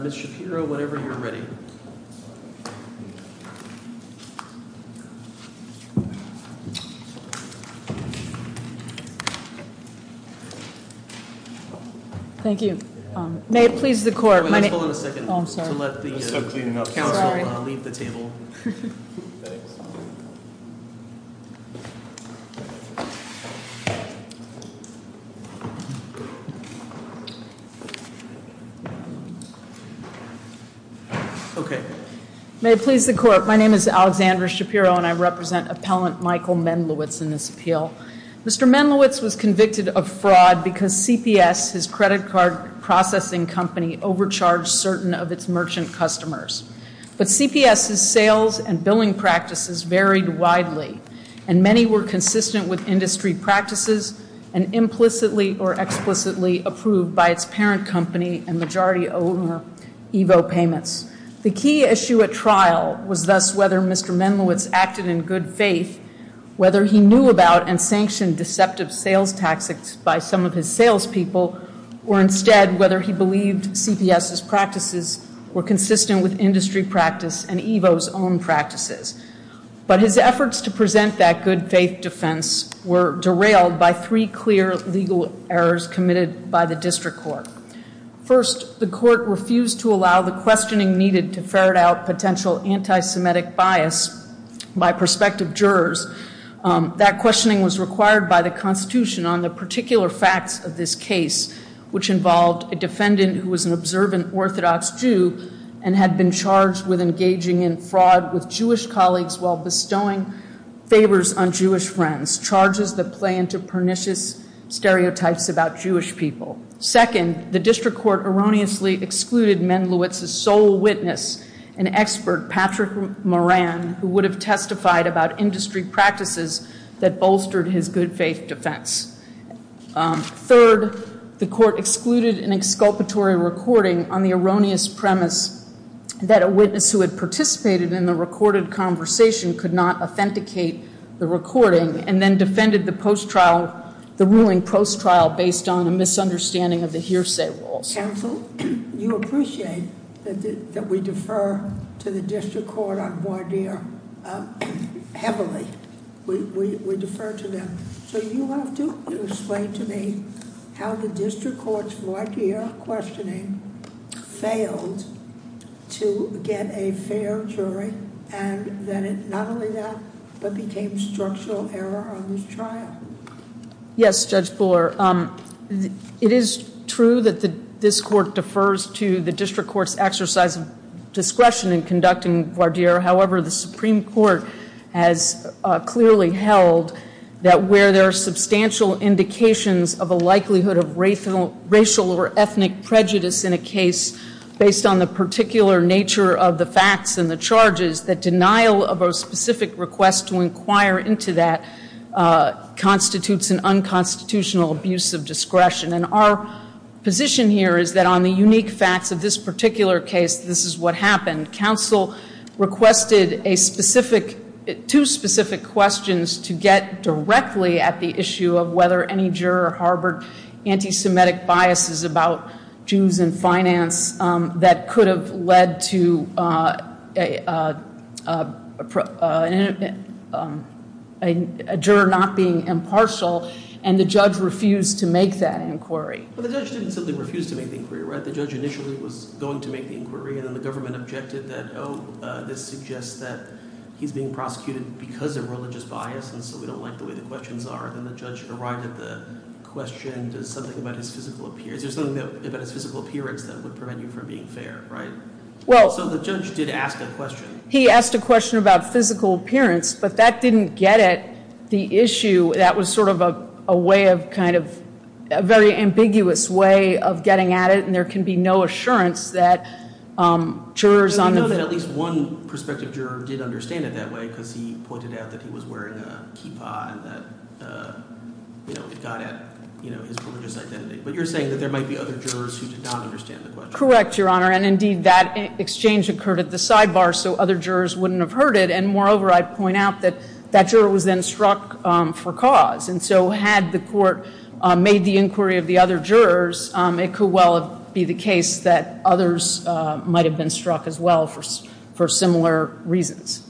Mr. Shapiro, whenever you're ready. Thank you. May it please the Court, my name is Alexandra Shapiro and I represent Appellant Michael Mendlowitz in this appeal. Mr. Mendlowitz was convicted of fraud because CPS, his credit card processing company, overcharged certain of its merchant customers. But CPS's sales and billing practices varied widely and many were consistent with industry practices and implicitly or explicitly approved by its parent company and majority owner Evo Payments. The key issue at trial was thus whether Mr. Mendlowitz acted in good faith, whether he knew about and sanctioned deceptive sales tactics by some of his sales people or instead whether he believed CPS's practices were consistent with industry practice and Evo's own practices. But his efforts to present that good faith defense were derailed by three clear legal errors committed by the district court. First, the court refused to allow the questioning needed to ferret out potential anti-Semitic bias by prospective jurors. That questioning was required by the Constitution on the particular facts of this case, which involved a defendant who was an observant Orthodox Jew and had been charged with engaging in fraud with Jewish colleagues while bestowing favors on Jewish friends, charges that play into pernicious stereotypes about Jewish people. Second, the district court erroneously excluded Mendlowitz's sole witness, an expert, Patrick Moran, who would have testified about industry practices that bolstered his good faith defense. Third, the court excluded an exculpatory recording on the erroneous premise that a witness who had participated in the recorded conversation could not authenticate the recording and then defended the post-trial, the ruling post-trial based on a misunderstanding of the hearsay rules. Judge Temple, you appreciate that we defer to the district court on Bardeer heavily. We defer to them. So you want to explain to me how the district court's Bardeer questioning failed to get a fair jury and that it not only that, but became structural error on the trial? Yes, Judge Bohler. It is true that this court defers to the district court's exercise of discretion in conducting Bardeer. However, the Supreme Court has clearly held that where there are substantial indications of a likelihood of racial or ethnic prejudice in a case based on the particular nature of the facts and the charges, the denial of a specific request to inquire into that constitutes an unconstitutional abuse of discretion. And our position here is that on the unique facts of this particular case, this is what happened. Counsel requested two specific questions to get directly at the issue of whether any juror harbored anti-Semitic biases about Jews in finance that could have led to a juror not being impartial, and the judge refused to make that inquiry. But the judge didn't simply refuse to make the inquiry, right? The judge initially was going to make the inquiry, and then the government objected that, oh, this suggests that he's being prosecuted because of religious bias, and so we don't like the way the questions are. Then the judge arrived at the question, does something about his physical appearance, there's something about his physical appearance that would prevent you from being fair, right? So the judge did ask that question. Well, he asked a question about physical appearance, but that didn't get at the issue of whether or not he was wearing a kippah and that, you know, he thought that, you know, his religious identity. But you're saying that there might be other jurors who did not understand the question. Correct, Your Honor. And indeed, that exchange occurred at the sidebar, so other jurors wouldn't have heard it. And moreover, I'd point out that that juror was then struck for cause. And so had the court made the inquiry of the other jurors, it could well be the case that others might have been struck as well for similar reasons.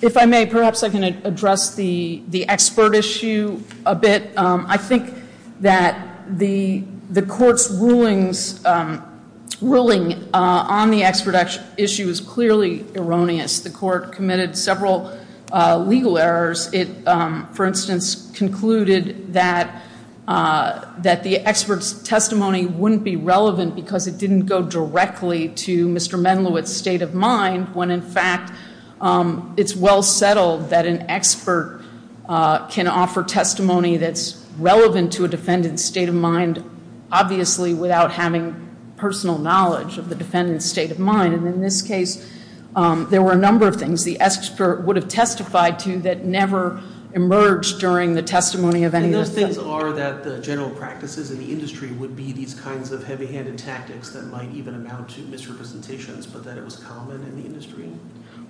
If I may, perhaps I can address the expert issue a bit. I think that the court's ruling on the expert issue is clearly erroneous. The court committed several legal errors. It, for instance, concluded that the expert's testimony wouldn't be relevant because it didn't go directly to Mr. Menlewitt's state of mind when, in fact, it's well settled that an expert can offer testimony that's relevant to a defendant's state of mind, obviously, without having personal knowledge of the defendant's state of mind. And in this case, there were a number of things the expert would have testified to that never emerged during the testimony of any of the defendants. And this is, or that the general practices of the industry would be these kinds of heavy-handed tactics that might even amount to misrepresentations, but that it was common in the industry?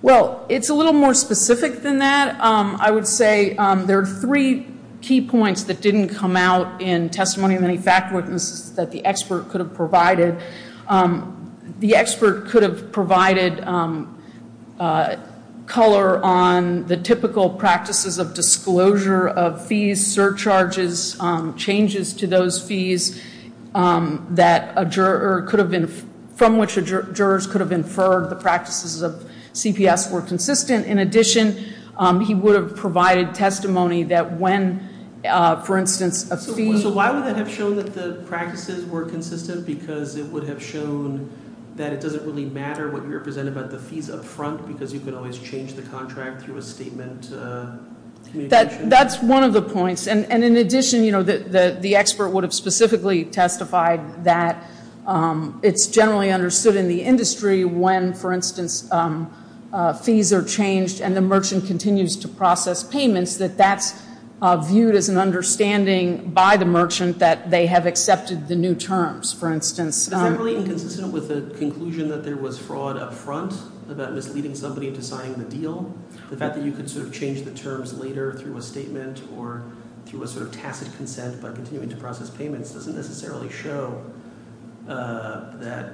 Well, it's a little more specific than that. I would say there are three key points that didn't come out in testimony of any faculties that the expert could have provided. The expert could have provided color on the typical practices of disclosure of fees, surcharges, changes to those fees that a juror could have been, from which a juror could have inferred the practices of CPS were consistent. In addition, he would have provided testimony that when, for instance, a fee... So why would that have shown that the practices were consistent? Because it would have shown that it doesn't really matter what you're presenting about the fees up front because you can always change the contract through a statement to... That's one of the points. And in addition, the expert would have specifically testified that it's generally understood in the industry when, for instance, fees are changed and the merchant continues to process payments, that that's viewed as an understanding by the merchant that they have accepted the new terms. For instance... But they're really inconsistent with the conclusion that there was fraud up front about leaving somebody to sign the deal? The fact that you could sort of change the terms later through a statement or through a sort of tacit consent by continuing to process payments doesn't necessarily show that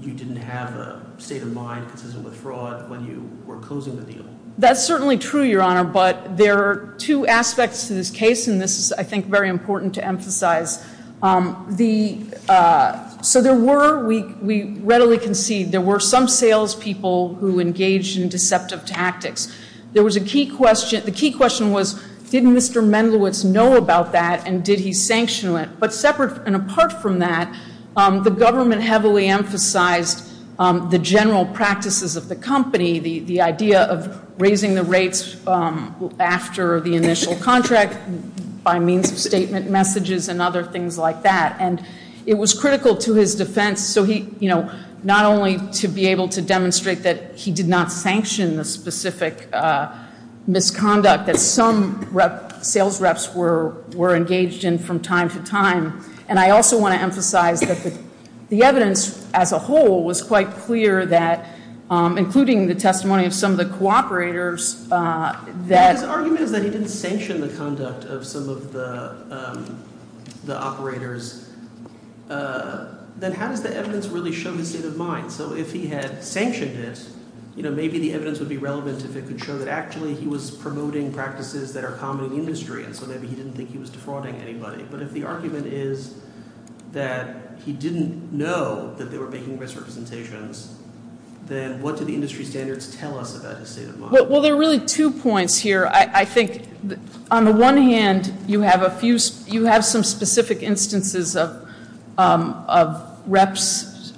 you didn't have a state of mind consistent with fraud when you were closing the deal. That's certainly true, Your Honor, but there are two aspects to this case, and this is, I think, very important to emphasize. So there were, we readily concede, there were some salespeople who engaged in deceptive tactics. There was a key question... The key question was, didn't Mr. Mendelowitz know about that and did he sanction it? But separate and apart from that, the government heavily emphasized the general practices of the company, the idea of raising the rates after the initial contract by means of statement messages and other things like that. And it was critical to his defense, so he, you know, not only to be able to demonstrate that he did not sanction the specific misconduct that some sales reps were engaged in from time to time, and I also want to emphasize that the evidence as a whole was quite clear that, including the testimony of some of the cooperators that... the operators, then how does the evidence really show the state of mind? So if he had sanctioned this, you know, maybe the evidence would be relevant to make sure that actually he was promoting practices that are common in the industry, so maybe he didn't think he was defrauding anybody. But if the argument is that he didn't know that they were making misrepresentations, then what do the industry standards tell us about the state of mind? Well, there are really two points here. I think on the one hand, you have a few... you have some specific instances of reps...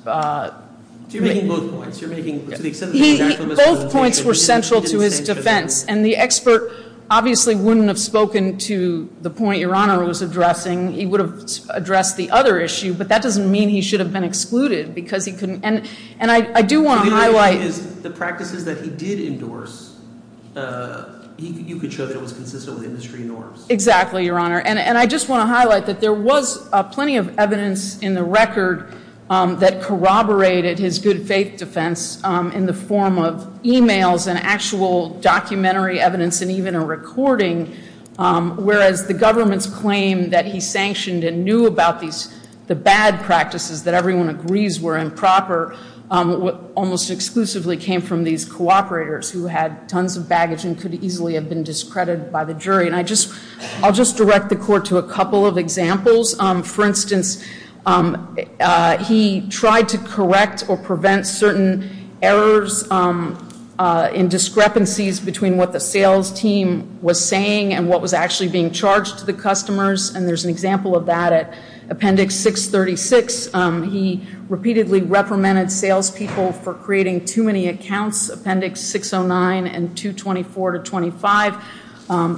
You're making both points. You're making... Those points were central to his defense, and the expert obviously wouldn't have spoken to the point your Honor was addressing. He would have addressed the other issue, but that doesn't mean he should have been excluded, because he couldn't... And I do want to highlight... The practices that he did endorse, you could show that it was consistently industry norms. Exactly, your Honor. And I just want to highlight that there was plenty of evidence in the record that corroborated his good faith defense in the form of emails and actual documentary evidence and even a recording, whereas the government's claim that he sanctioned and knew about these... that everyone agrees were improper, almost exclusively came from these cooperators who had tons of baggage and could easily have been discredited by the jury. And I just... I'll just direct the Court to a couple of examples. For instance, he tried to correct or prevent certain errors in discrepancies between what the sales team was saying and what was actually being charged to the customers. And there's an example of that at Appendix 636. He repeatedly reprimanded sales people for creating too many accounts, Appendix 609 and 224 to 25.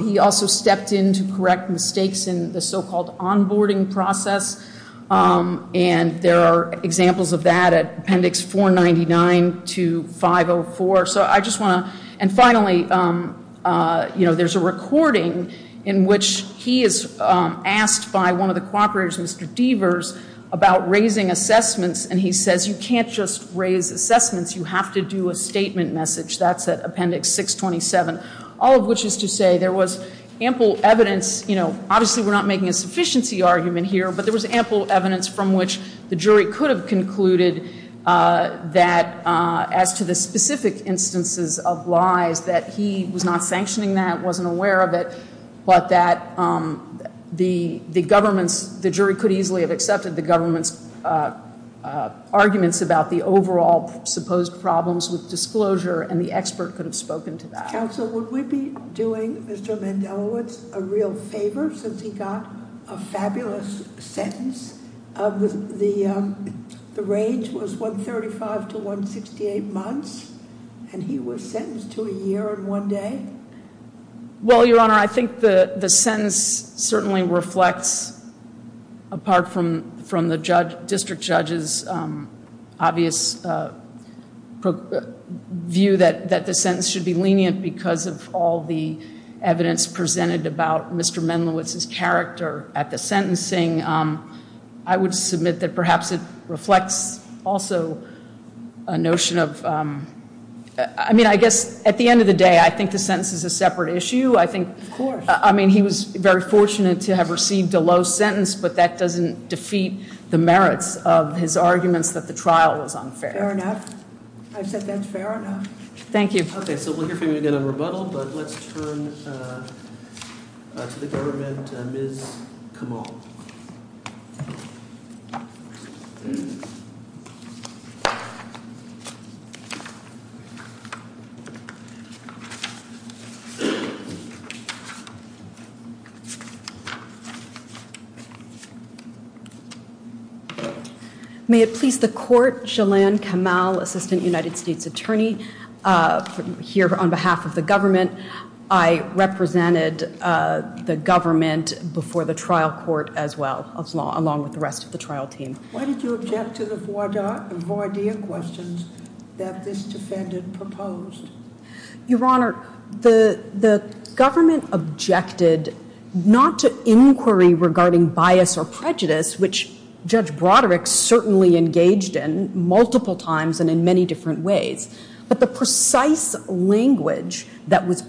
He also stepped in to correct mistakes in the so-called onboarding process. And there are examples of that at Appendix 499 to 504. And finally, you know, there's a recording in which he is asked by one of the cooperators, Mr. Devers, about raising assessments, and he says, you can't just raise assessments, you have to do a statement message. That's at Appendix 627, all of which is to say there was ample evidence, you know, obviously we're not making a sufficiency argument here, but there was ample evidence from which the instances of lies that he was not sanctioning that, wasn't aware of it, but that the government, the jury could easily have accepted the government's arguments about the overall supposed problems with disclosure, and the expert could have spoken to that. Counsel, would we be doing Mr. Mandelowitz a real favor since he got a fabulous sentence? The range was 135 to 168 months, and he was sentenced to a year and one day? Well, Your Honor, I think the sentence certainly reflects, apart from the district judge's obvious view that the sentence should be lenient because of all the evidence presented about Mr. Mandelowitz's character at the sentencing, I would submit that perhaps it reflects also a notion of, I mean, I guess at the end of the day, I think the sentence is a separate issue. Of course. I mean, he was very fortunate to have received a low sentence, but that doesn't defeat the merits of his arguments that the trial was unfair. Fair enough. I said that's fair enough. Thank you. Okay, so we'll hear from you again on rebuttal, but let's turn to the government, Ms. Kamal. May it please the Court, Jelan Kamal, Assistant United States Attorney, here on behalf of the government. And I represented the government before the trial court as well, along with the rest of the trial team. Why did you object to the voir dire questions that this defendant proposed? Your Honor, the government objected not to inquiry regarding bias or prejudice, which Judge Broderick certainly engaged in multiple times and in many different ways, but the questions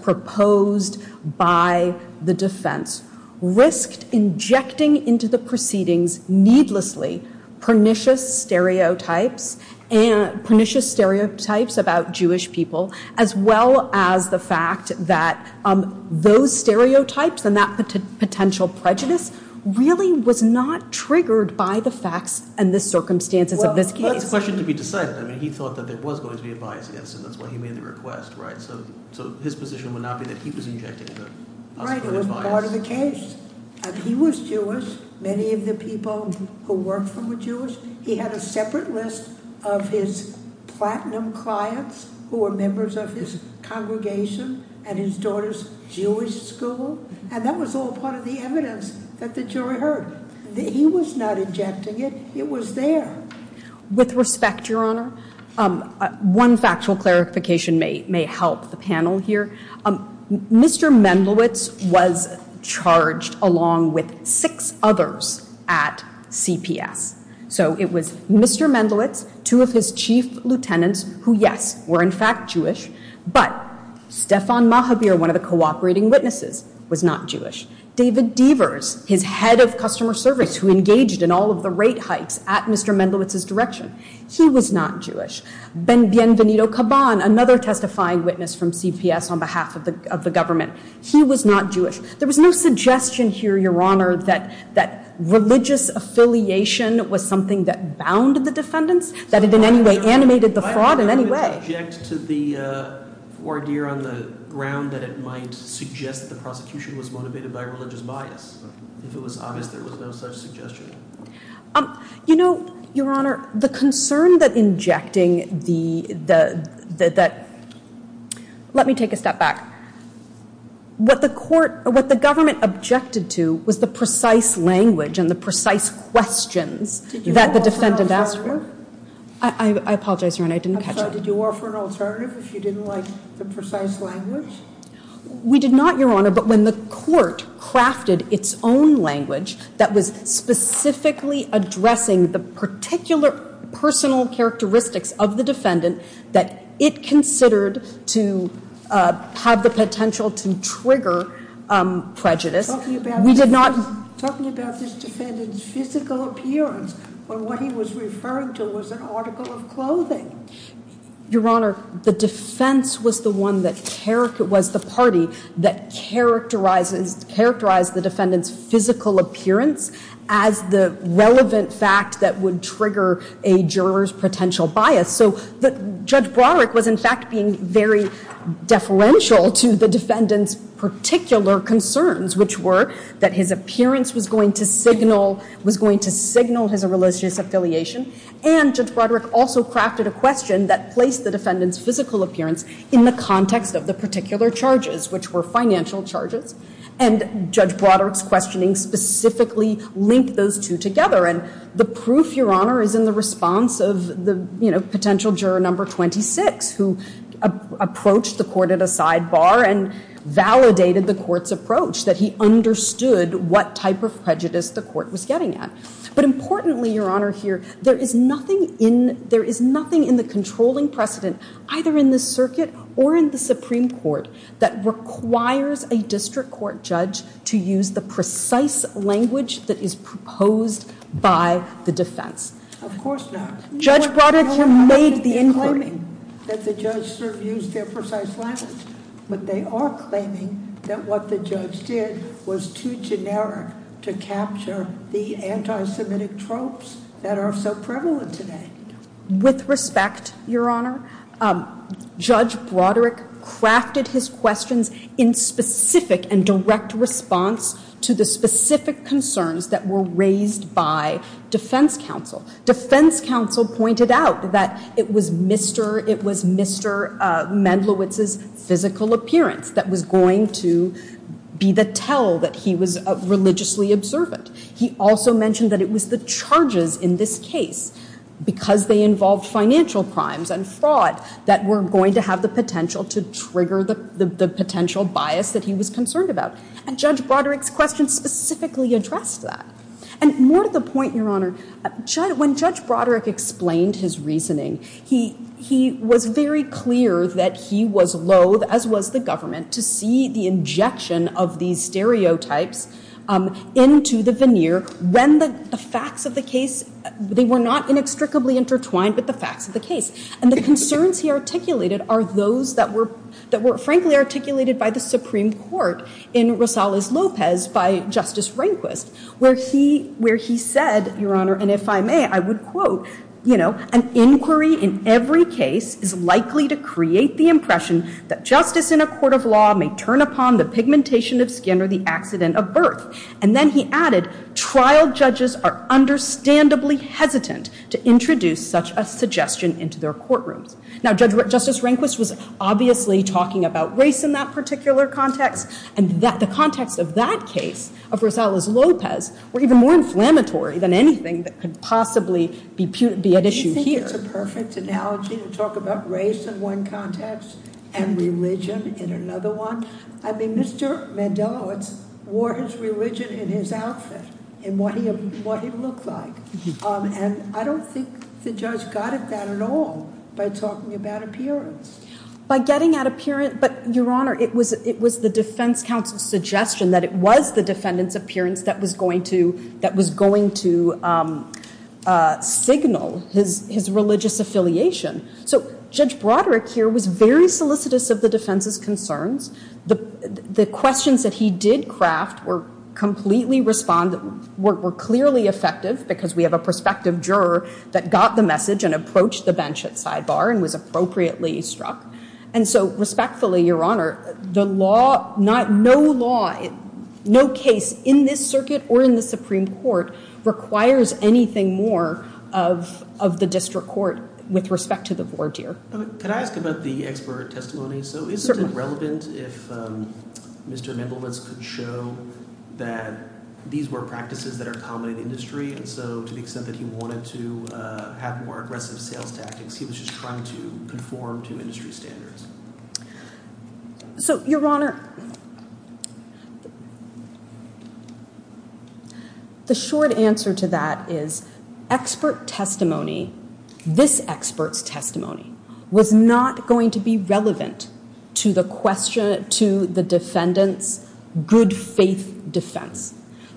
proposed by the defense risked injecting into the proceedings needlessly pernicious stereotypes about Jewish people, as well as the fact that those stereotypes and that potential prejudice really was not triggered by the facts and the circumstances of this case. Well, the question could be discussed. I mean, he thought that there was going to be a bias against him. That's why he made the request, right? So his position would not be that he was injecting a bias. Right. It was part of the case. And he was Jewish. Many of the people who worked with him were Jewish. He had a separate list of his platinum clients who were members of his congregation at his daughter's Jewish school, and that was all part of the evidence that the jury heard. He was not objecting it. It was there. With respect, Your Honor, one factual clarification may help the panel here. Mr. Mendelitz was charged along with six others at CPS. So it was Mr. Mendelitz, two of his chief lieutenants who, yes, were in fact Jewish, but Stefan Mahavir, one of the cooperating witnesses, was not Jewish. David Devers, his head of customer service who engaged in all of the rate hikes at Mr. Mendelitz's direction, he was not Jewish. Ben Bienvenido-Kaban, another testifying witness from CPS on behalf of the government, he was not Jewish. There was no suggestion here, Your Honor, that religious affiliation was something that bound the defendants, that it in any way animated the fraud in any way. I object to the order on the ground that it might suggest that the prosecution was motivated by religious bias. If it was honest, there was no such suggestion. You know, Your Honor, the concern that injecting the, that, let me take a step back. What the court, what the government objected to was the precise language and the precise questions that the defendants asked for. I apologize, Your Honor, I didn't catch that. So did you offer an alternative if you didn't like the precise language? We did not, Your Honor, but when the court crafted its own language that was specifically addressing the particular personal characteristics of the defendant that it considered to have the potential to trigger prejudice, we did not. Tell me about this defendant's physical appearance, or what he was referring to as an article of clothing. Your Honor, the defense was the one that, was the party that characterized the defendant's physical appearance as the relevant fact that would trigger a juror's potential bias. So Judge Broderick was in fact being very deferential to the defendant's particular concerns, which were that his appearance was going to signal, was going to signal his religious affiliation. And Judge Broderick also crafted a question that placed the defendant's physical appearance in the context of the particular charges, which were financial charges. And Judge Broderick's questioning specifically linked those two together. And the proof, Your Honor, is in the response of the, you know, potential juror number 26 who approached the court at a sidebar and validated the court's approach, that he understood what type of prejudice the court was getting at. But importantly, Your Honor, here, there is nothing in, there is nothing in the controlling precedent, either in the circuit or in the Supreme Court, that requires a district court judge to use the precise language that is proposed by the defense. Of course not. Judge Broderick may be including that the judge used their precise language, but they are claiming that what the judge did was too generic to capture the anti-Semitic tropes that are so prevalent today. With respect, Your Honor, Judge Broderick crafted his questions in specific and direct response to the specific concerns that were raised by defense counsel. Defense counsel pointed out that it was Mr., it was Mr. Mendlowitz's physical appearance that was going to be the tell that he was religiously observant. He also mentioned that it was the charges in this case, because they involved financial crimes and fraud, that were going to have the potential to trigger the potential bias that he was concerned about. And Judge Broderick's questions specifically addressed that. And more to the point, Your Honor, when Judge Broderick explained his reasoning, he was very clear that he was loathe, as was the government, to see the injection of these stereotypes into the veneer when the facts of the case, they were not inextricably intertwined with the facts of the case. And the concerns he articulated are those that were frankly articulated by the Supreme And I'm going to go back to Justice Rehnquist, where he said, Your Honor, and if I may, I would quote, you know, an inquiry in every case is likely to create the impression that justice in a court of law may turn upon the pigmentation of skin or the accident of birth. And then he added, trial judges are understandably hesitant to introduce such a suggestion into their courtroom. Now, Justice Rehnquist was obviously talking about race in that particular context. And yet the context of that case, of Rosales-Lopez, were even more inflammatory than anything that could possibly be at issue here. I think it's a perfect analogy to talk about race in one context and religion in another one. I mean, Mr. Mandelowitz wore his religion in his outfit in what he looked like. And I don't think the judge got at that at all by talking about appearance. By getting at appearance, but Your Honor, it was the defense counsel's suggestion that it was the defendant's appearance that was going to signal his religious affiliation. So Judge Broderick here was very solicitous of the defense's concerns. The questions that he did craft were clearly effective because we have a prospective juror that got the message and approached the bench at sidebar and was appropriately struck. And so respectfully, Your Honor, no law, no case in this circuit or in the Supreme Court requires anything more of the district court with respect to the voir dire. Can I ask about the expert testimony? So is it relevant if Mr. Mandelowitz could show that these were practices that are common in the industry? And so to the extent that he wanted to have more aggressive sales tactics, he was just trying to conform to industry standards. So, Your Honor, the short answer to that is expert testimony, this expert testimony, was not going to be relevant to the defendant's good faith defense.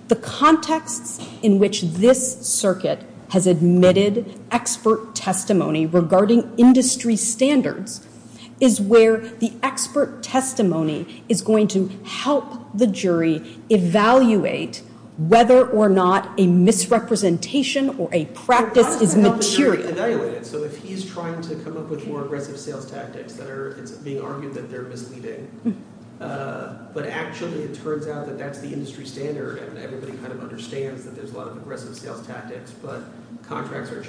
The context in which this circuit has admitted expert testimony regarding industry standards is where the expert testimony is going to help the jury evaluate whether or not a misrepresentation or a practice is material. So if he's trying to come up with more aggressive sales tactics that are being argued that they're competing, but actually it turns out that that's the industry standard and everybody kind of understands that there's a lot of aggressive sales tactics, but contracts are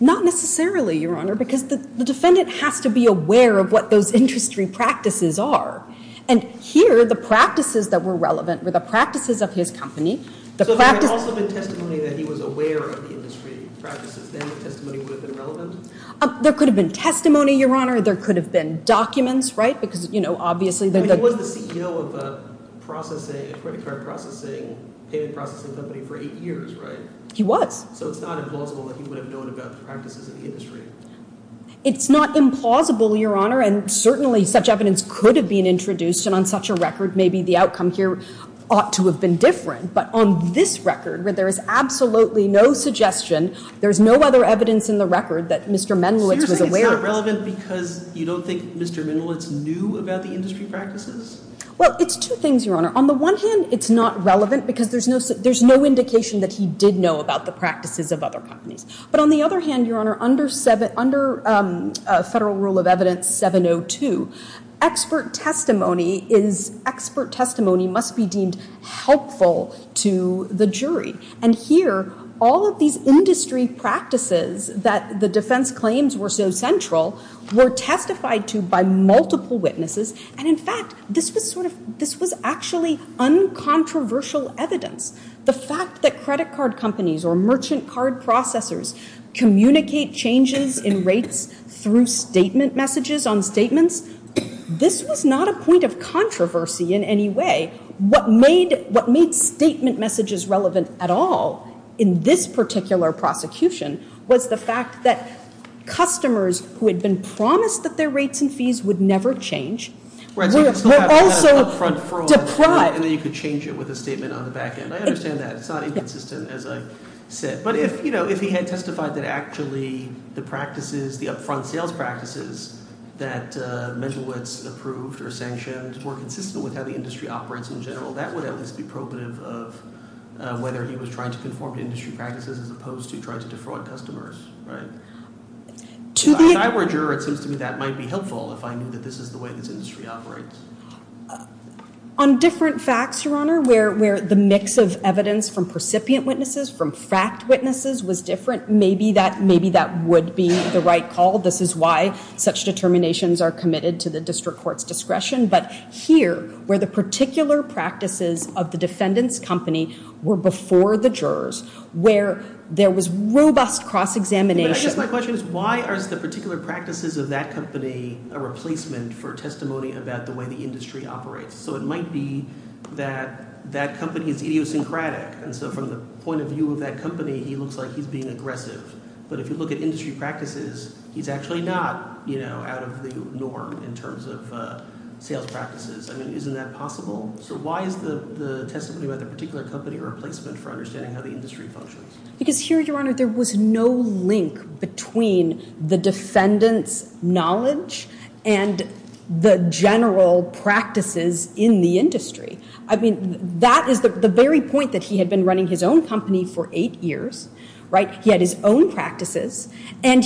Not necessarily, Your Honor, because the defendant has to be aware of what those industry practices are. And here, the practices that were relevant were the practices of his company. There could have been testimony, Your Honor. There could have been documents, right? He was the CEO of a processing company for eight years, right? He was. So it's not implausible that he would have known about the practices of the industry. It's not implausible, Your Honor, and certainly such evidence could have been introduced, and on such a record, maybe the outcomes here ought to have been different. But on this record, where there is absolutely no suggestion, there's no other evidence in the record that Mr. Mendeleev was aware of. Is that relevant because you don't think Mr. Mendeleev knew about the industry practices? Well, it's two things, Your Honor. On the one hand, it's not relevant because there's no indication that he did know about the practices of other companies. But on the other hand, Your Honor, under Federal Rule of Evidence 702, expert testimony must be deemed helpful to the jury. And here, all of these industry practices that the defense claims were so central were testified to by multiple witnesses. And in fact, this was actually uncontroversial evidence. The fact that credit card companies or merchant card processors communicate changes in rates through statement messages on statements, this was not a point of controversy in any way. What made statement messages relevant at all in this particular prosecution was the fact that customers who had been promised that their rates and fees would never change were also surprised. And then you could change it with a statement on the back end. I understand that. It's not inconsistent, as I've said. But if he had testified that actually the practices, the upfront sales practices that would be probative of whether he was trying to conform to industry practices as opposed to trying to defraud customers, right? If I were a juror, it seems to me that might be helpful if I knew that this is the way this industry operates. On different facts, Your Honor, where the mix of evidence from precipient witnesses, from fact witnesses was different, maybe that would be the right call. This is why such determinations are committed to the district court's discretion. But here, where the particular practices of the defendant's company were before the jurors, where there was robust cross-examination. My question is, why are the particular practices of that company a replacement for testimony about the way the industry operates? So it might be that that company is idiosyncratic. And so from the point of view of that company, he looks like he's being aggressive. But if you look at industry practices, he's actually not out of the norm in terms of detailed practices. I mean, isn't that possible? So why is the testimony about the particular company a replacement for understanding how the industry functions? Because here, Your Honor, there was no link between the defendant's knowledge and the general practices in the industry. I mean, that is the very point that he had been running his own company for eight years, right? He had his own practices. And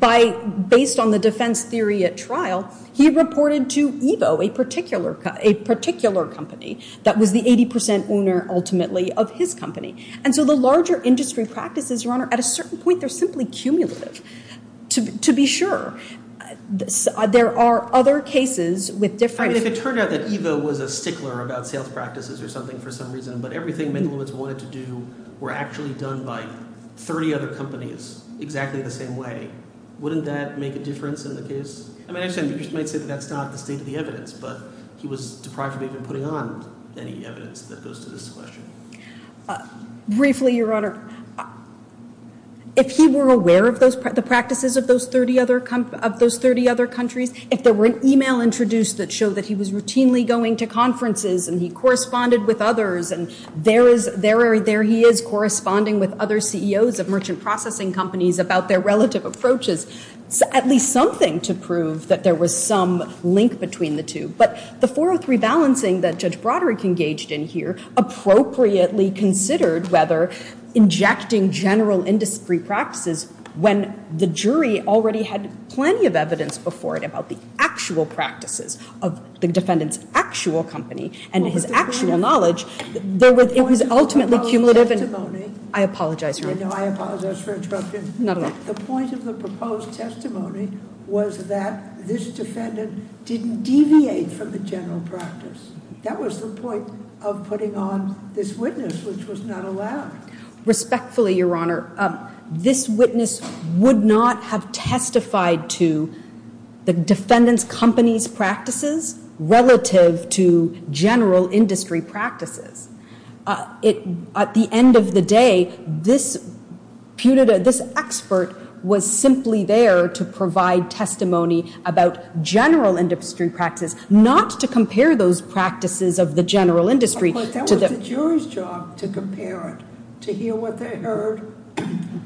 based on the defense theory at trial, he reported to Evo, a particular company, that was the 80% owner, ultimately, of his company. And so the larger industry practices, Your Honor, at a certain point, they're simply cumulative, to be sure. There are other cases with different- It turned out that Evo was a stickler about telepractices or something for some reason. But everything many of us wanted to do were actually done by 30 other companies, exactly the same way. Wouldn't that make a difference in the case? I mean, that's not the evidence, but he was deprived of even putting on any evidence that goes to this question. Briefly, Your Honor, if he were aware of the practices of those 30 other countries, if there were an email introduced that showed that he was routinely going to conferences and he corresponded with others and there he is corresponding with other CEOs of merchant processing companies about their relative approaches, it's at least something to prove that there was some link between the two. But the 403 balancing that Judge Broderick engaged in here appropriately considered whether injecting general industry practices when the jury already had plenty of evidence before about the actual practices of the defendant's actual company and his actual knowledge, it was ultimately cumulative. I apologize, Your Honor. I apologize for interrupting. Not at all. The point of the proposed testimony was that this defendant didn't deviate from the general practice. That was the point of putting on this witness, which was not allowed. Respectfully, Your Honor, this witness would not have testified to the defendant's company's practices relative to general industry practices. At the end of the day, this expert was simply there to provide testimony about general industry practices, not to compare those practices of the general industry. Well, it's the jury's job to compare it, to hear what they heard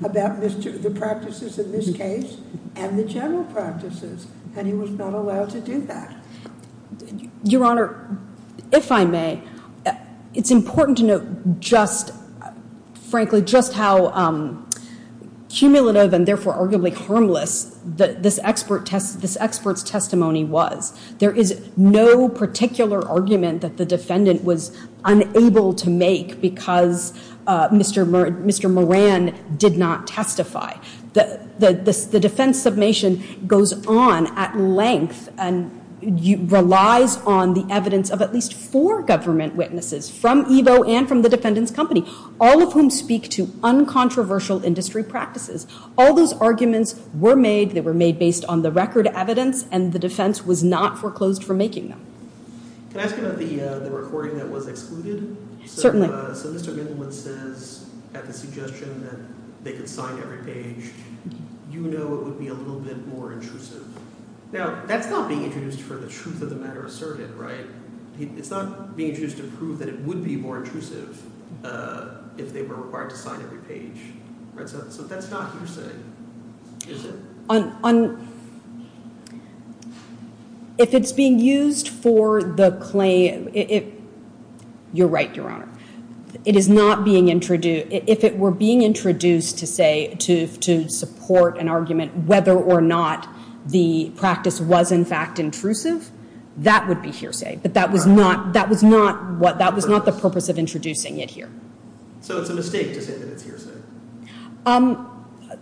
about the practices in this case and the general practices. And he was not allowed to do that. Your Honor, if I may, it's important to note just, frankly, just how cumulative and therefore arguably harmless this expert's testimony was. There is no particular argument that the defendant was unable to make because Mr. Moran did not testify. The defense submission goes on at length and relies on the evidence of at least four government witnesses from Evo and from the defendant's company, all of whom speak to uncontroversial industry practices. All those arguments were made. They were made based on the record evidence, and the defense was not foreclosed for making them. Can I ask about the recording that was excluded? Certainly. So Mr. Goodwin says, at the suggestion that they could sign every page, you know it would be a little bit more intrusive. Now, that's not being introduced for the truth of the matter asserted, right? It's not being introduced to prove that it would be more intrusive if they were required to sign every page. So that's not what you're saying, is it? If it's being used for the claim, you're right, Your Honor. If it were being introduced to say, to support an argument whether or not the practice was in fact intrusive, that would be hearsay, but that was not the purpose of introducing it here. So it's a mistake you're saying that it's hearsay?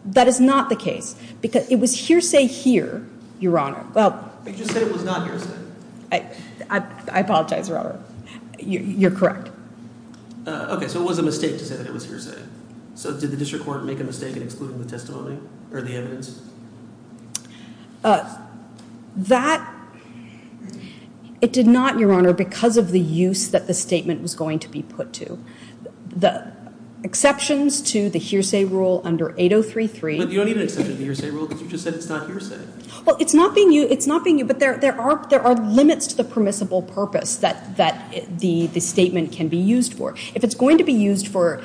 That is not the case. It was hearsay here, Your Honor. You just said it was not hearsay. I apologize, Your Honor. You're correct. Okay, so it was a mistake to say that it was hearsay. So did the district court make a mistake in excluding the testimony or the evidence? That, it did not, Your Honor, because of the use that the statement was going to be put to. The exceptions to the hearsay rule under 8033... You don't even accept the hearsay rule because you just said it's not hearsay. Well, it's not being used, but there are limits to the permissible purpose that the statement can be used for. If it's going to be used for,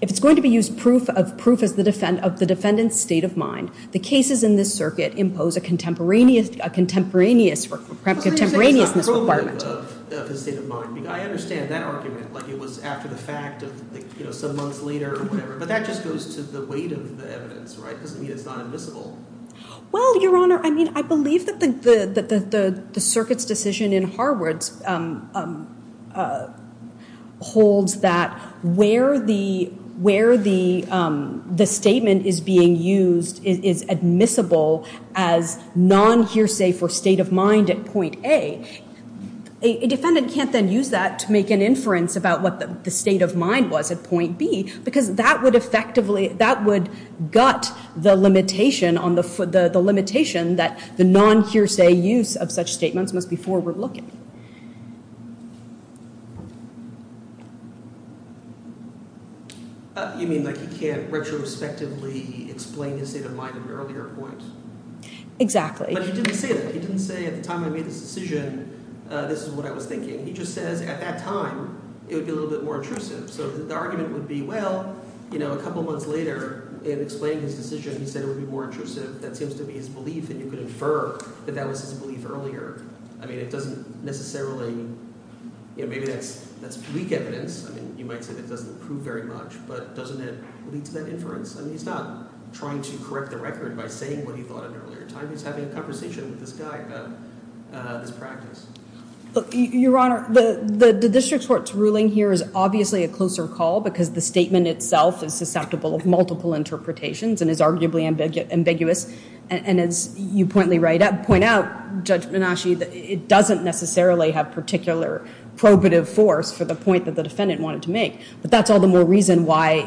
if it's going to be used as proof of the defendant's state of mind, the cases in this circuit impose a contemporaneous requirement. I understand that argument, like it was after the fact, some months later or whatever, but that just goes to the weight of the evidence, right? It's not invisible. Well, Your Honor, I mean, I believe that the circuit's decision in Harwoods holds that where the statement is being used is admissible as non-hearsay for state of mind at point A. A defendant can't then use that to make an inference about what the state of mind was at point B because that would effectively, that would gut the limitation that the non-hearsay use of such statements must be forward-looking. You mean like you can't retrospectively explain the state of mind of your earlier points? Exactly. But you didn't say it. You didn't say at the time I made this decision, this is what I was thinking. You just said at that time, it would be a little bit more intrusive. So the argument would be, well, you know, a couple months later, in explaining the decision, you said it would be more intrusive. That seems to be his belief that you could infer that that was his belief earlier. I mean, it doesn't necessarily, you know, maybe that's weak evidence. I mean, you might say it doesn't prove very much, but doesn't it lead to that inference? I mean, he's not trying to correct the record by saying what he thought at an earlier time. He's having a conversation with this guy about this practice. Your Honor, the district court's ruling here is obviously a closer call because the statement itself is susceptible of multiple interpretations and is arguably ambiguous. And as you pointly point out, Judge Minasci, it doesn't necessarily have particular probative force for the point that the defendant wanted to make. But that's all the more reason why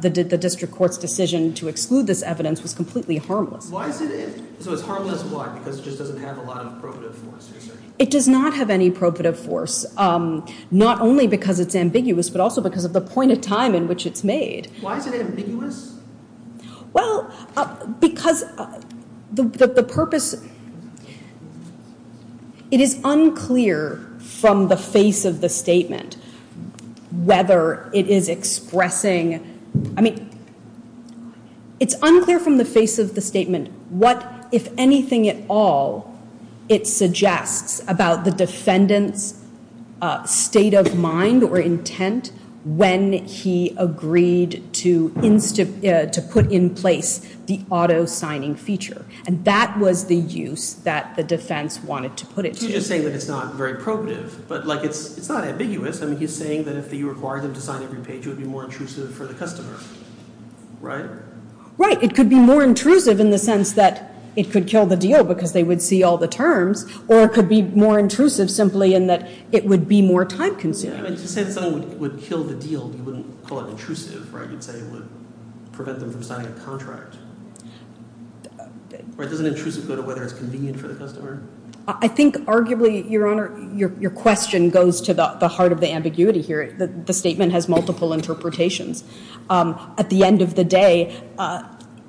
the district court's decision to exclude this evidence was completely harmless. So it's harmless, why? Because it just doesn't have a lot of probative force. It does not have any probative force, not only because it's ambiguous, but also because of the point of time in which it's made. Why is it ambiguous? Well, because the purpose... It is unclear from the face of the statement whether it is expressing... I mean, it's unclear from the face of the statement what, if anything at all, it suggests about the defendant's state of mind or intent when he agreed to put in place the auto-signing feature. And that was the use that the defense wanted to put it to. So you're saying that it's not very probative. But it's not ambiguous. I mean, he's saying that if he required them to sign it, it would be more intrusive for the customer. Right? Right. It could be more intrusive in the sense that it could kill the deal because they would see all the terms. Or it could be more intrusive simply in that it would be more time-consuming. If something would kill the deal, you wouldn't call it intrusive, right? You'd say it would prevent them from signing the contract. Or doesn't intrusive go to whether it's convenient for the customer? I think arguably, Your Honor, your question goes to the heart of the ambiguity here. The statement has multiple interpretations. At the end of the day,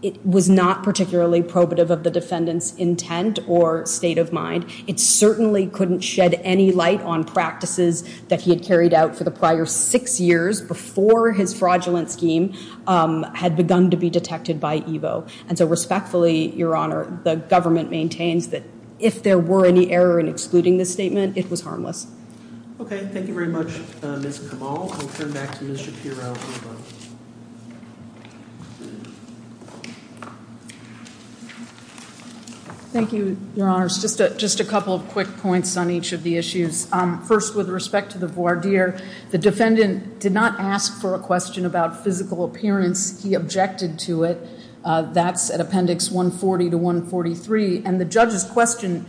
it was not particularly probative of the defendant's intent or state of mind. It certainly couldn't shed any light on practices that he had carried out for the prior six years before his fraudulent scheme had begun to be detected by Evo. And so respectfully, Your Honor, the government maintains that if there were any error in excluding the statement, it was harmless. Okay. Thank you very much, Ms. Kamal. We'll turn back to Ms. Shapiro. Thank you, Your Honor. Just a couple of quick points on each of the issues. First, with respect to the voir dire, the defendant did not ask for a question about physical appearance. He objected to it. That's at Appendix 140 to 143. And the judge's question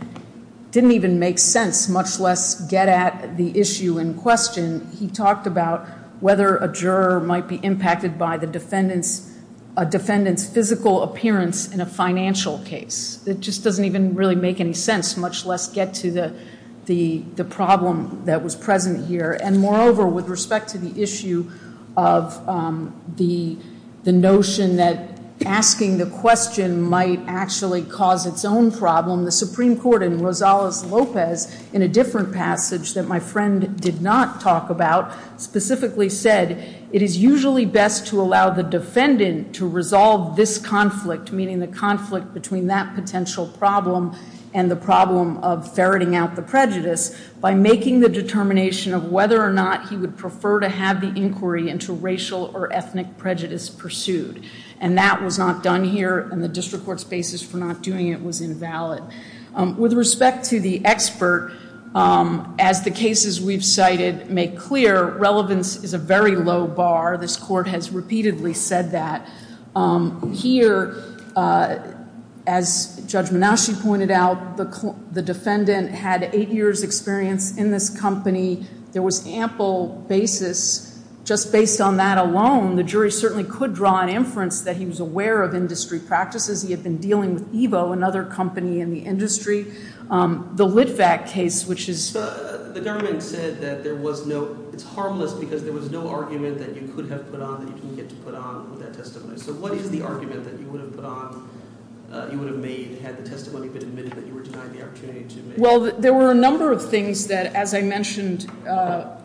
didn't even make sense, much less get at the issue in question. He talked about whether a juror might be impacted by the defendant's physical appearance in a financial case. It just doesn't even really make any sense, much less get to the problem that was present here. And moreover, with respect to the issue of the notion that asking the question might actually cause its own problem, the Supreme Court in Rosales-Lopez, in a different passage that my friend did not talk about, specifically said, it is usually best to allow the defendant to resolve this conflict, meaning the conflict between that potential problem and the problem of ferreting out the prejudice, by making the determination of whether or not he would prefer to have the inquiry into racial or ethnic prejudice pursued. And that was not done here, and the district court's basis for not doing it was invalid. With respect to the expert, as the cases we've cited make clear, relevance is a very low bar. This court has repeatedly said that. Here, as Judge Menasci pointed out, the defendant had eight years' experience in this company. There was ample basis. Just based on that alone, the jury certainly could draw an inference that he was aware of industry practices. He had been dealing with Evo, another company in the industry. The Litvak case, which is... The government said that there was no... It's harmless because there was no argument that you could have put on that you didn't get to put on that testimony. So what is the argument that you would have made had the testimony been made that you were denied the opportunity to... Well, there were a number of things that, as I mentioned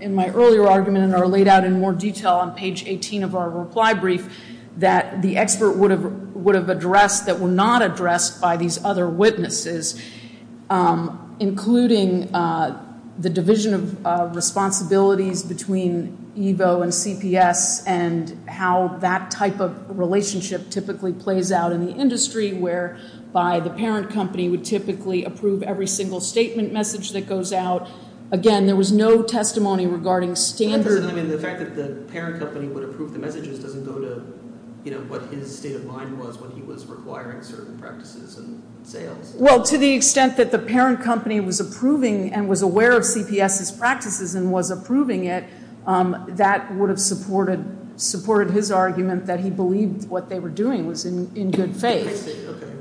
in my earlier argument and of our reply brief, that the expert would have addressed that were not addressed by these other witnesses, including the division of responsibility between Evo and CPS and how that type of relationship typically plays out in the industry, where by the parent company would typically approve every single statement message that goes out. Again, there was no testimony regarding standards... What his state of mind was when he was requiring certain practices. Well, to the extent that the parent company was approving and was aware of CPS's practices and was approving it, that would have supported his argument that he believed what they were doing was in good faith.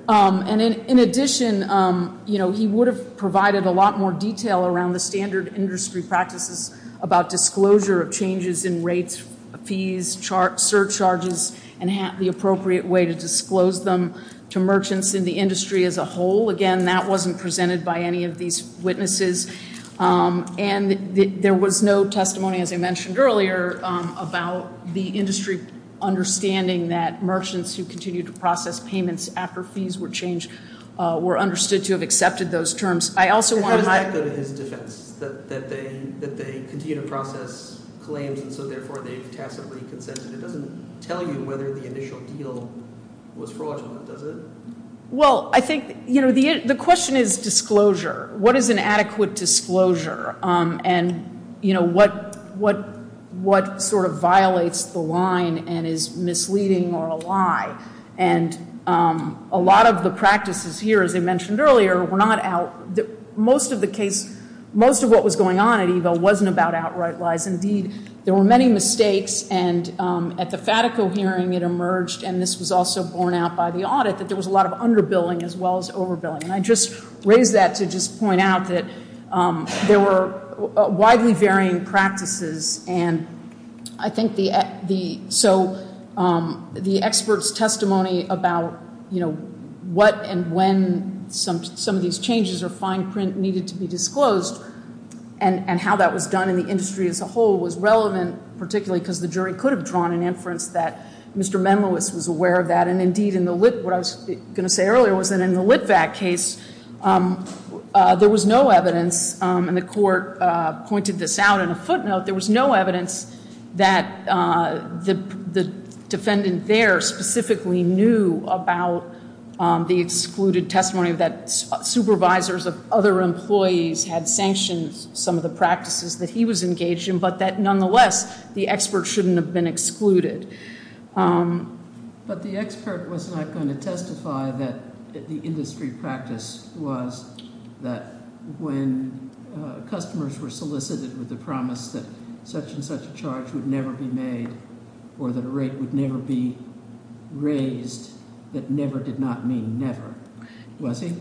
In addition, he would have provided a lot more detail around the standard industry practices about disclosure of changes in rates, fees, surcharges, and the appropriate way to disclose them to merchants in the industry as a whole. Again, that wasn't presented by any of these witnesses. And there was no testimony, as I mentioned earlier, about the industry understanding that merchants who continue to process payments after fees were changed were understood to have accepted those terms. I also want to... Well, I think, you know, the question is disclosure. What is an adequate disclosure? And, you know, what sort of violates the line and is misleading or a lie? And a lot of the practices here, as I mentioned earlier, were not out. Most of the case, most of what was going on at Evo wasn't about outright lies. Indeed, there were many mistakes. And at the Fatico hearing, it emerged, and this was also borne out by the audit, that there was a lot of underbilling as well as overbilling. And I just raised that to just point out that there were widely varying practices. And I think the... So the expert's testimony about, you know, what and when some of these changes of fine print needed to be disclosed and how that was done in the industry as a whole was relevant, particularly because the jury could have drawn an inference that Mr. Memolis was aware of that. And, indeed, in the... What I was going to say earlier was that in the Litvak case, there was no evidence, and the court pointed this out in a footnote, there was no evidence that the defendant there specifically knew about the excluded testimony that supervisors of other employees had sanctioned some of the practices that he was engaged in, but that, nonetheless, the expert shouldn't have been excluded. But the expert was not going to testify that the industry practice was that when customers were solicited with the promise that such and such a charge would never be made or that a rate would never be raised, that never did not mean never. Was he?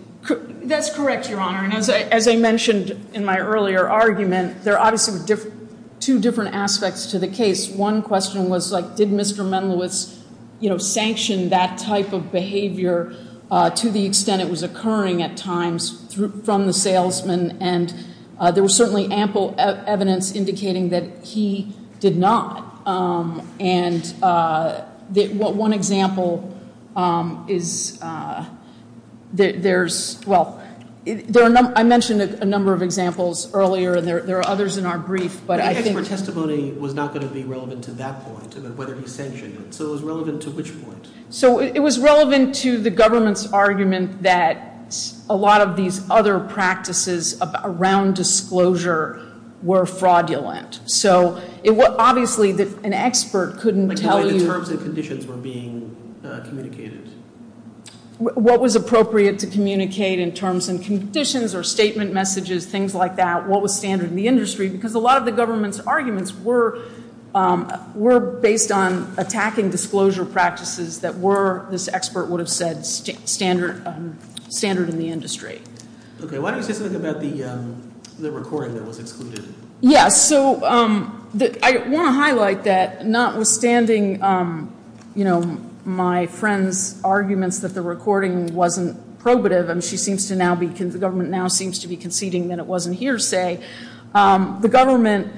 That's correct, Your Honor. And as I mentioned in my earlier argument, there obviously were two different aspects to the case. One question was, like, did Mr. Memolis, you know, sanction that type of behavior to the extent it was occurring at times from the salesman? And there was certainly ample evidence indicating that he did not. And one example is that there's... Well, I mentioned a number of examples earlier, and there are others in our brief, but I think... So it was relevant to which point? So it was relevant to the government's argument that a lot of these other practices around disclosure were fraudulent. So obviously an expert couldn't tell you... In terms of conditions for being communicated. What was appropriate to communicate in terms of conditions or statement messages, things like that? What was standard in the industry? Because a lot of the government's arguments were based on attacking disclosure practices that were, this expert would have said, standard in the industry. Okay. Why don't you talk about the recording that was included? Yeah. So I want to highlight that notwithstanding, you know, my friend's arguments that the recording wasn't probative. The government now seems to be conceding that it wasn't hearsay. The government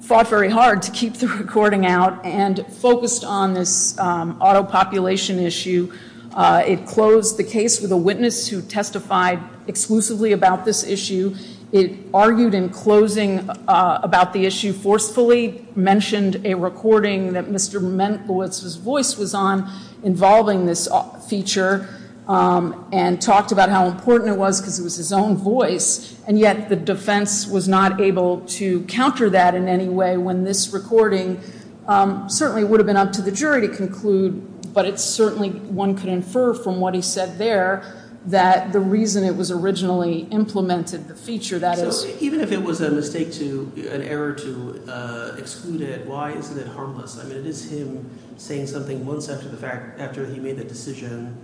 fought very hard to keep the recording out and focused on this auto-population issue. It closed the case with a witness who testified exclusively about this issue. It argued in closing about the issue forcefully, mentioned a recording that Mr. Menkowitz's voice was on involving this feature and talked about how important it was because it was his own voice. And yet the defense was not able to counter that in any way when this recording certainly would have been up to the jury to conclude. But it certainly, one could infer from what he said there that the reason it was originally implemented, the feature, that is... Even if it was a mistake to, an error to exclude it, why isn't it harmless? I mean, it is him saying something once after the fact, after he made a decision,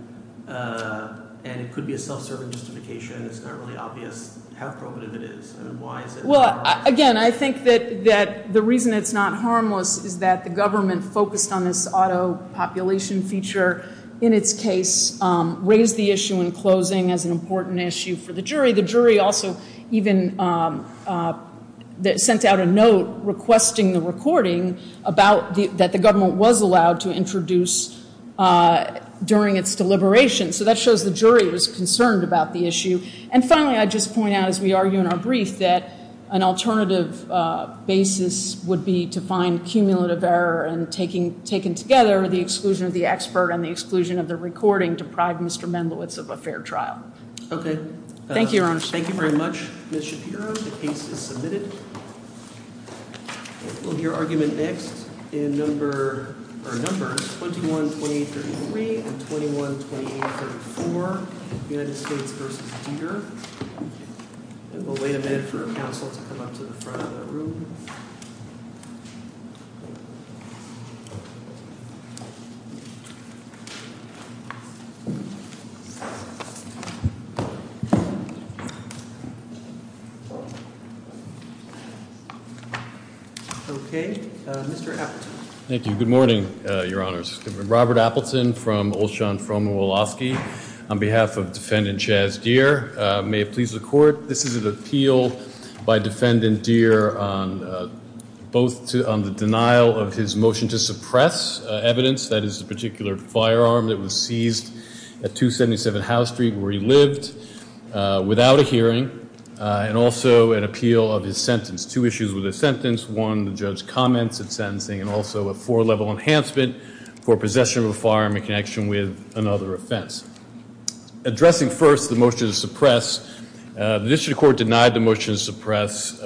and it could be a self-certification. It's not really obvious how relevant it is and why. Well, again, I think that the reason it's not harmless is that the government focused on this auto-population feature in its case, raised the issue in closing as an important issue for the jury. The jury also even sent out a note requesting the recording that the government was allowed to introduce during its deliberation. So that shows the jury was concerned about the issue. And finally, I'd just point out, as we argue in our brief, that an alternative basis would be to find cumulative error and taking together the exclusion of the expert and the exclusion of the recording to pride Mr. Menkowitz of a fair trial. Okay. Thank you, Your Honor. Thank you very much, Ms. Shapiro. The case is submitted. We'll hear argument next in numbers 21-23 and 21-24, United States v. Cedar. And we'll wait a minute for counsel to come up to the front of the room. Okay. Mr. Appleton. Thank you. Good morning, Your Honors. I'm Robert Appleton from Olshan Froma Wolofsky on behalf of Defendant Chaz Dear. May it please the Court, this is an appeal by Defendant Dear on both on the denial of his motion to suppress evidence, that is, the particular firearm that was seized at without a hearing, and also an appeal of his sentence. Two issues with his sentence. One, the judge's comment to sentencing, and also a four-level enhancement for possession of a firearm in connection with another offense. Addressing first the motion to suppress, the district court denied the motion to suppress.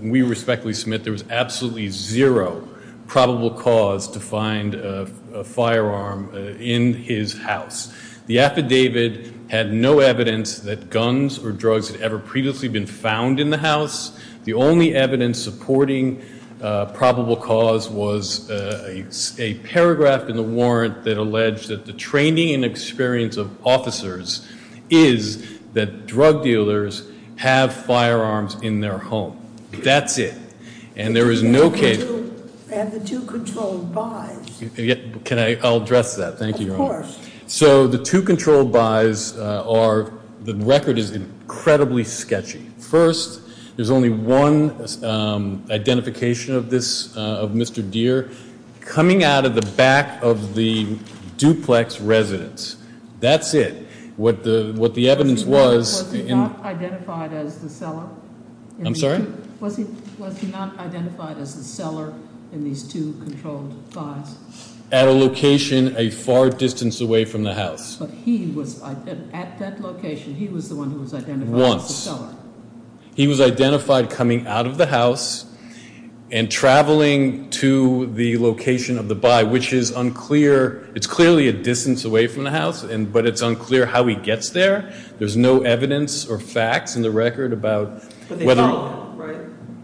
We respectfully submit there was absolutely zero probable cause to find a firearm in his house. The affidavit had no evidence that guns or drugs had ever previously been found in the house. The only evidence supporting probable cause was a paragraph in the warrant that alleged that the training and experience of officers is that drug dealers have firearms in their home. That's it. And there is no case. And the two controlled by. Can I address that? Of course. So the two controlled by's are, the record is incredibly sketchy. First, there's only one identification of this, of Mr. Dear, coming out of the back of the duplex residence. That's it. What the evidence was. Was he not identified as the seller? I'm sorry? Was he not identified as the seller in these two controlled by's? At a location a far distance away from the house. But he was, at that location, he was the one who was identified as the seller. Once. He was identified coming out of the house and traveling to the location of the by, which is unclear. It's clearly a distance away from the house, but it's unclear how he gets there. There's no evidence or facts in the record about whether.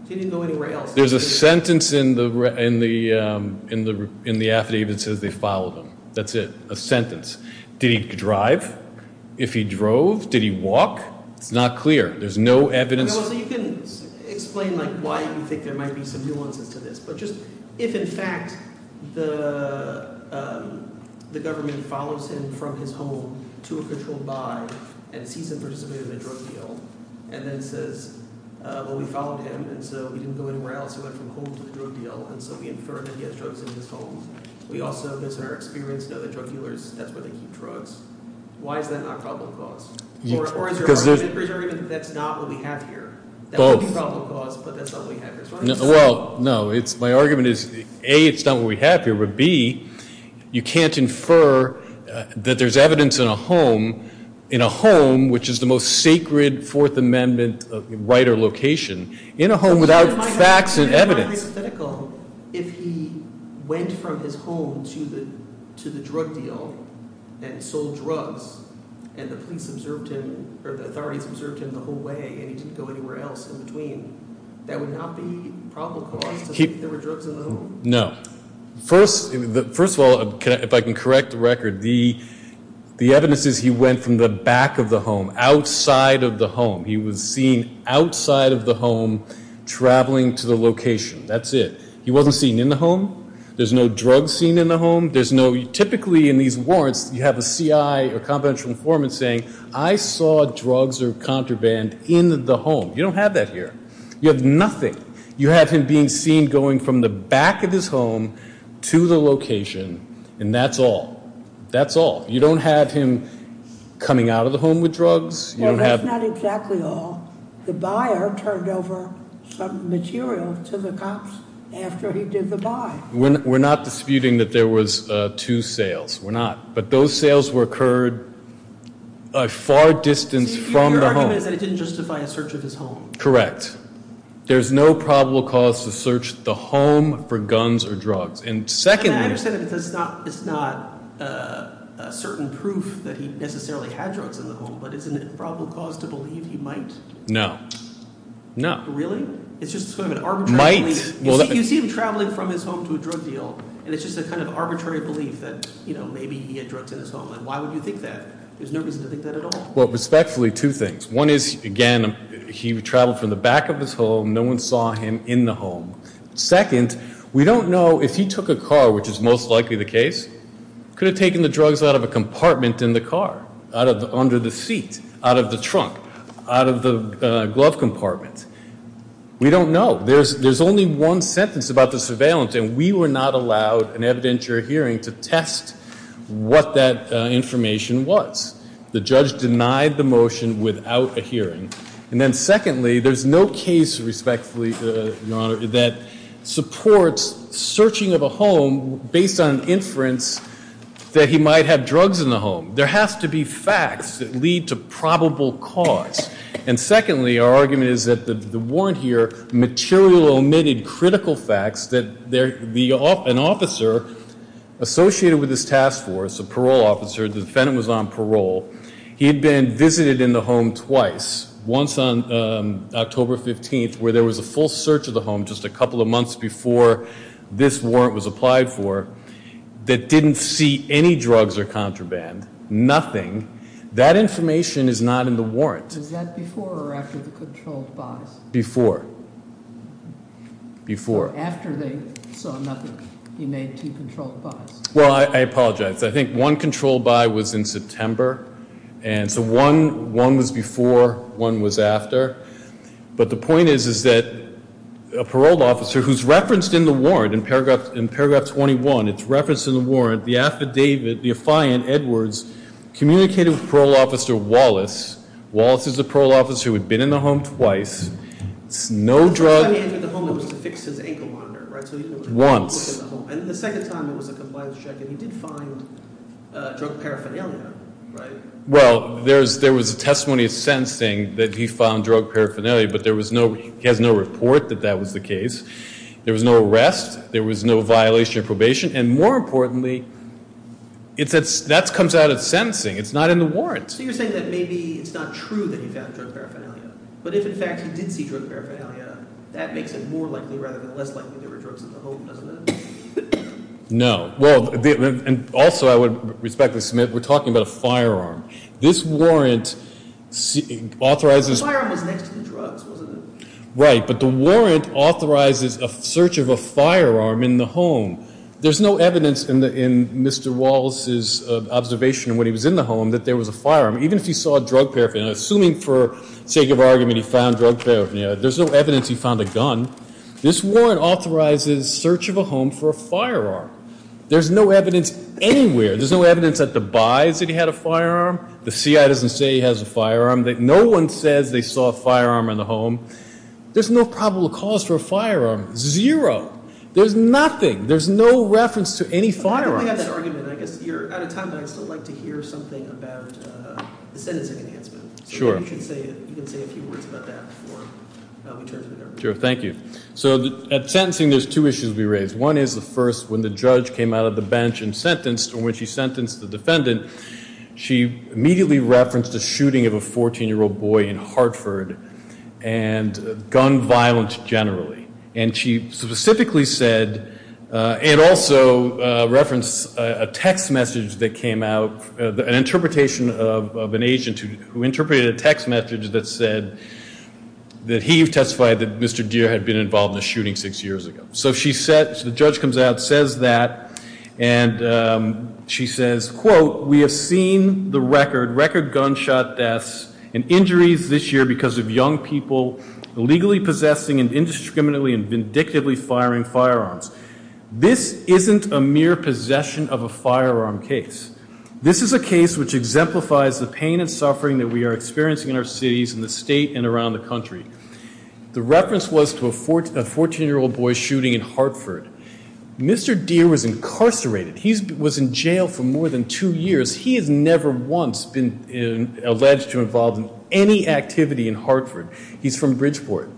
He didn't know anywhere else. There's a sentence in the affidavit that says they followed him. That's it. A sentence. Did he drive? If he drove? Did he walk? Not clear. There's no evidence. You can explain why you think there might be some nuances to this. But just, if in fact the government follows him from his home to a controlled by and sees And then says, well, we followed him, and so we didn't know anywhere else. He went from home to a controlled by, and so he insured that he had drugs in his home. We also, based on our experience, know that drug dealers, that's where they use the drugs. Why is that not a problem clause? Or is there argument that that's not what we have here? That's a problem clause, but that's not what we have here. Well, no. My argument is, A, it's not what we have here, but B, you can't infer that there's evidence in a home, in a home, which is the most sacred Fourth Amendment of a wider location, in a home without facts and evidence. It might be hypothetical if he went from his home to the drug deal and sold drugs, and the police observed him, or the authorities observed him the whole way, and he didn't go anywhere else in between. That would not be a problem clause, would it? The reserve for the home? No. First of all, if I can correct the record, the evidence is he went from the back of the home, outside of the home. He was seen outside of the home traveling to the location. That's it. He wasn't seen in the home. There's no drugs seen in the home. There's no, typically in these warrants, you have a C.I., a confidential informant, saying, I saw drugs or contraband in the home. You don't have that here. You have nothing. You have him being seen going from the back of his home to the location, and that's all. That's all. You don't have him coming out of the home with drugs. No, that's not exactly all. The buyer turned over some material to the cops after he did the buy. We're not disputing that there was two sales. We're not. But those sales were occurred a far distance from the home. You're recommending that he didn't justify a search of his home. Correct. There's no probable cause to search the home for guns or drugs. And secondly... And that said, it's not a certain proof that he necessarily had drugs in the home, but isn't it probable cause to believe he might? No. No. Really? It's just sort of an arbitrary... Might? He's seen him traveling from his home to a drug deal, and it's just a kind of arbitrary belief that, you know, maybe he had drugs in his home. And why would you think that? There's no reason to think that at all. Well, respectfully, two things. One is, again, he traveled from the back of his home. No one saw him in the home. Second, we don't know if he took a car, which is most likely the case, could have taken the drugs out of a compartment in the car, under the seat, out of the trunk, out of the glove compartment. We don't know. There's only one sentence about the surveillance, and we were not allowed in evidentiary hearings to test what that information was. The judge denied the motion without a hearing. And then secondly, there's no case, respectfully, Your Honor, that supports searching of a home based on inference that he might have drugs in the home. There has to be facts that lead to probable cause. And secondly, our argument is that the warrant here material omitted critical facts that an officer associated with this task force, a parole officer, the defendant was on parole, he'd been visited in the home twice, once on October 15th, where there was a full search of the home just a couple of months before this warrant was applied for, that didn't see any drugs or contraband, nothing. That information is not in the warrant. Was that before or after the control five? Before. Before. After they saw nothing, he made two control fives. Well, I apologize. I think one control five was in September. And so one was before, one was after. But the point is that a parole officer who's referenced in the warrant, in paragraph 21, it's referenced in the warrant, the affidavit, the affiant, Edwards, communicated with parole officer Wallace. Wallace is the parole officer who had been in the home twice. No drugs. Once. Drug paraphernalia. Right. Well, there was a testimony of sentencing that he found drug paraphernalia, but he has no report that that was the case. There was no arrest. There was no violation of probation. And more importantly, that comes out of sentencing. It's not in the warrant. So you're saying that maybe it's not true that he found drug paraphernalia. But if, in fact, he did see drug paraphernalia, that makes it more likely rather than less likely that there were drugs in the home, doesn't it? No. Well, and also, I would respectfully submit, we're talking about a firearm. This warrant authorizes... The firearm was next to the drugs, wasn't it? Right. But the warrant authorizes a search of a firearm in the home. There's no evidence in Mr. Wallace's observation when he was in the home that there was a firearm, even if he saw drug paraphernalia. Assuming for sake of argument he found drug paraphernalia, there's no evidence he found a gun. This warrant authorizes search of a home for a firearm. There's no evidence anywhere. There's no evidence that the buys that he had a firearm. The CIA doesn't say he has a firearm. No one said they saw a firearm in the home. There's no probable cause for a firearm. Zero. There's nothing. There's no reference to any firearm. I have an argument. At the time, I would like to hear something about the sentencing against him. Sure. You can say a few words about that. Sure. Thank you. So at sentencing, there's two issues we raise. One is the first, when the judge came out of the bench and sentenced, or when she sentenced the defendant, she immediately referenced the shooting of a 14-year-old boy in Hartford and gun violence generally. And she specifically said, and also referenced a text message that came out, an interpretation of an agent who interpreted a text message that said that he testified that Mr. Deere had been involved in a shooting six years ago. So the judge comes out, says that, and she says, quote, We have seen the record, record gunshot deaths and injuries this year because of young people legally possessing and indiscriminately and vindictively firing firearms. This isn't a mere possession of a firearm case. This is a case which exemplifies the pain and suffering that we are experiencing in our cities in the state and around the country. The reference was to a 14-year-old boy shooting in Hartford. Mr. Deere was incarcerated. He was in jail for more than two years. He had never once been alleged to involve in any activity in Hartford. He's from Bridgeport.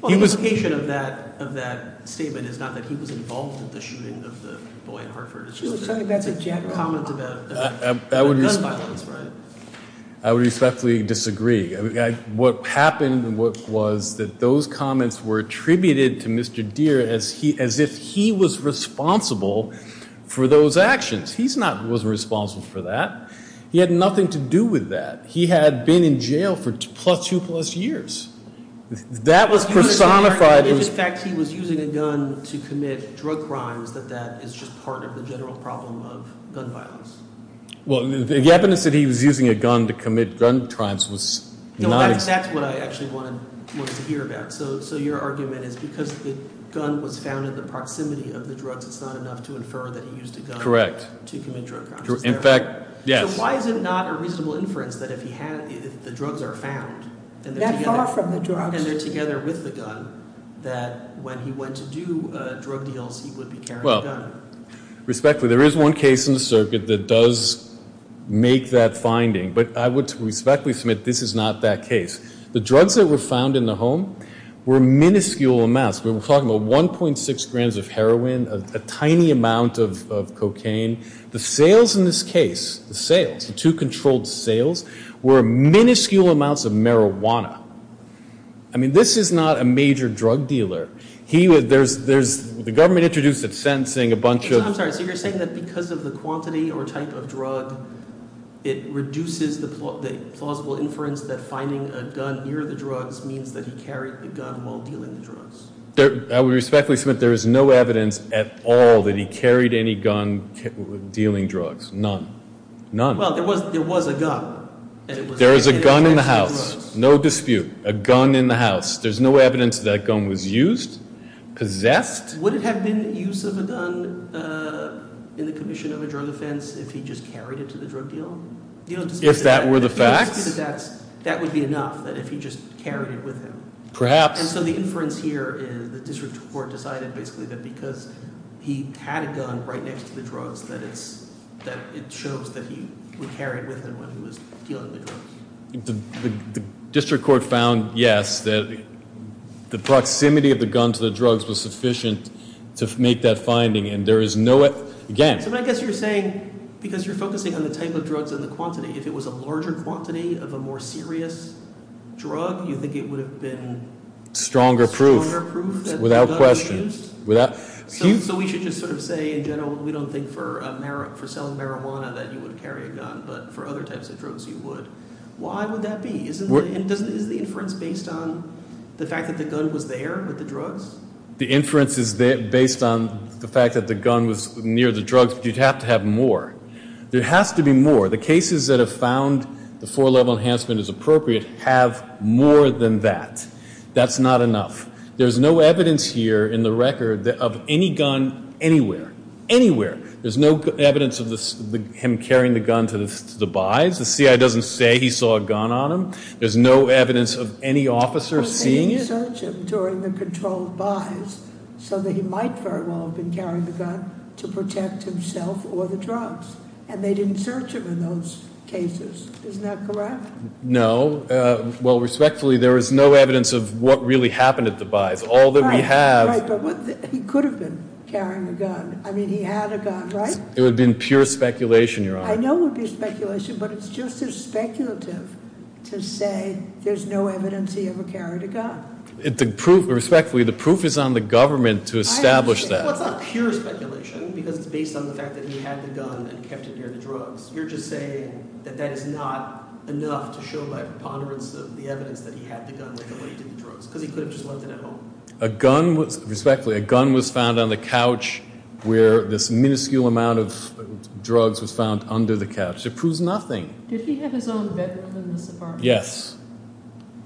The implication of that statement is not that he was involved in the shooting of the boy in Hartford. I would respectfully disagree. What happened was that those comments were attributed to Mr. Deere as if he was responsible for those actions. He wasn't responsible for that. He had nothing to do with that. He had been in jail for plus two plus years. That was personified. If in fact he was using a gun to commit drug crimes, then that is just part of the general problem of gun violence. Well, the evidence that he was using a gun to commit gun crimes was not... That's what I actually wanted to hear about. So your argument is because the gun was found in the proximity of the drugs, it's not enough to infer that he used a gun to commit drug crimes. Correct. In fact, yes. Why is it not a reasonable inference that if the drugs are found and they're together with the gun, that when he went to do drug deals, he would be carrying a gun? Respectfully, there is one case in the circuit that does make that finding, but I would respectfully submit this is not that case. The drugs that were found in the home were minuscule amounts. We're talking about 1.6 grams of heroin, a tiny amount of cocaine. The sales in this case, the sales, the two controlled sales, were minuscule amounts of marijuana. I mean, this is not a major drug dealer. He was... There's... The government introduced a sentencing, a bunch of... I'm sorry. So you're saying that because of the quantity or type of drug, it reduces the plausible inference that finding a gun near the drugs means that he carried the gun while dealing the drugs? I would respectfully submit there is no evidence at all that he carried any gun while dealing drugs. None. None. Well, there was a gun. There is a gun in the house. No dispute. A gun in the house. There's no evidence that gun was used, possessed? Would it have been the use of a gun in the commission of a drug offense if he just carried it to the drug dealer? If that were the fact? If that were the fact, that would be enough, that if he just carried it with him. Perhaps. And so the inference here is the district court decided basically that because he had a gun right next to the drugs, that it shows that he would carry it with him when he was dealing the drugs. The district court found, yes, that the proximity of the gun to the drugs was sufficient to make that finding, and there is no, again. So I guess you're saying, because you're focusing on the type of drugs and the quantity, if it was a larger quantity of a more serious drug, you think it would have been stronger proof? Stronger proof. Without question. So we should just sort of say in general, we don't think for selling marijuana that you would carry a gun, but for other types of drugs you would. Why would that be? Isn't the inference based on the fact that the gun was there with the drugs? The inference is based on the fact that the gun was near the drugs. You'd have to have more. There'd have to be more. The cases that have found the four-level enhancement is appropriate have more than that. That's not enough. There's no evidence here in the record of any gun anywhere. Anywhere. There's no evidence of him carrying the gun to the buys. The CIA doesn't say he saw a gun on him. There's no evidence of any officers seeing it. But they didn't search him during the controlled buys so that he might very well have been carrying the gun to protect himself or the drugs, and they didn't search him in those cases. Isn't that correct? No. Well, respectfully, there is no evidence of what really happened at the buys. All that we have... Right, right. But he could have been carrying a gun. I mean, he had a gun, right? It would have been pure speculation, Your Honor. I know it would be speculation, but it's just as speculative to say there's no evidence he ever carried a gun. Respectfully, the proof is on the government to establish that. It's not pure speculation because it's based on the fact that he had the gun and kept it near the drugs. You're just saying that that is not enough to show my preponderance of the evidence that he had the gun and kept it near the drugs because he could have just left it at home. A gun was... Respectfully, a gun was found on the couch where this minuscule amount of drugs was found under the couch. It proves nothing. Did he have his own medicine in his apartment? Yes. Yes.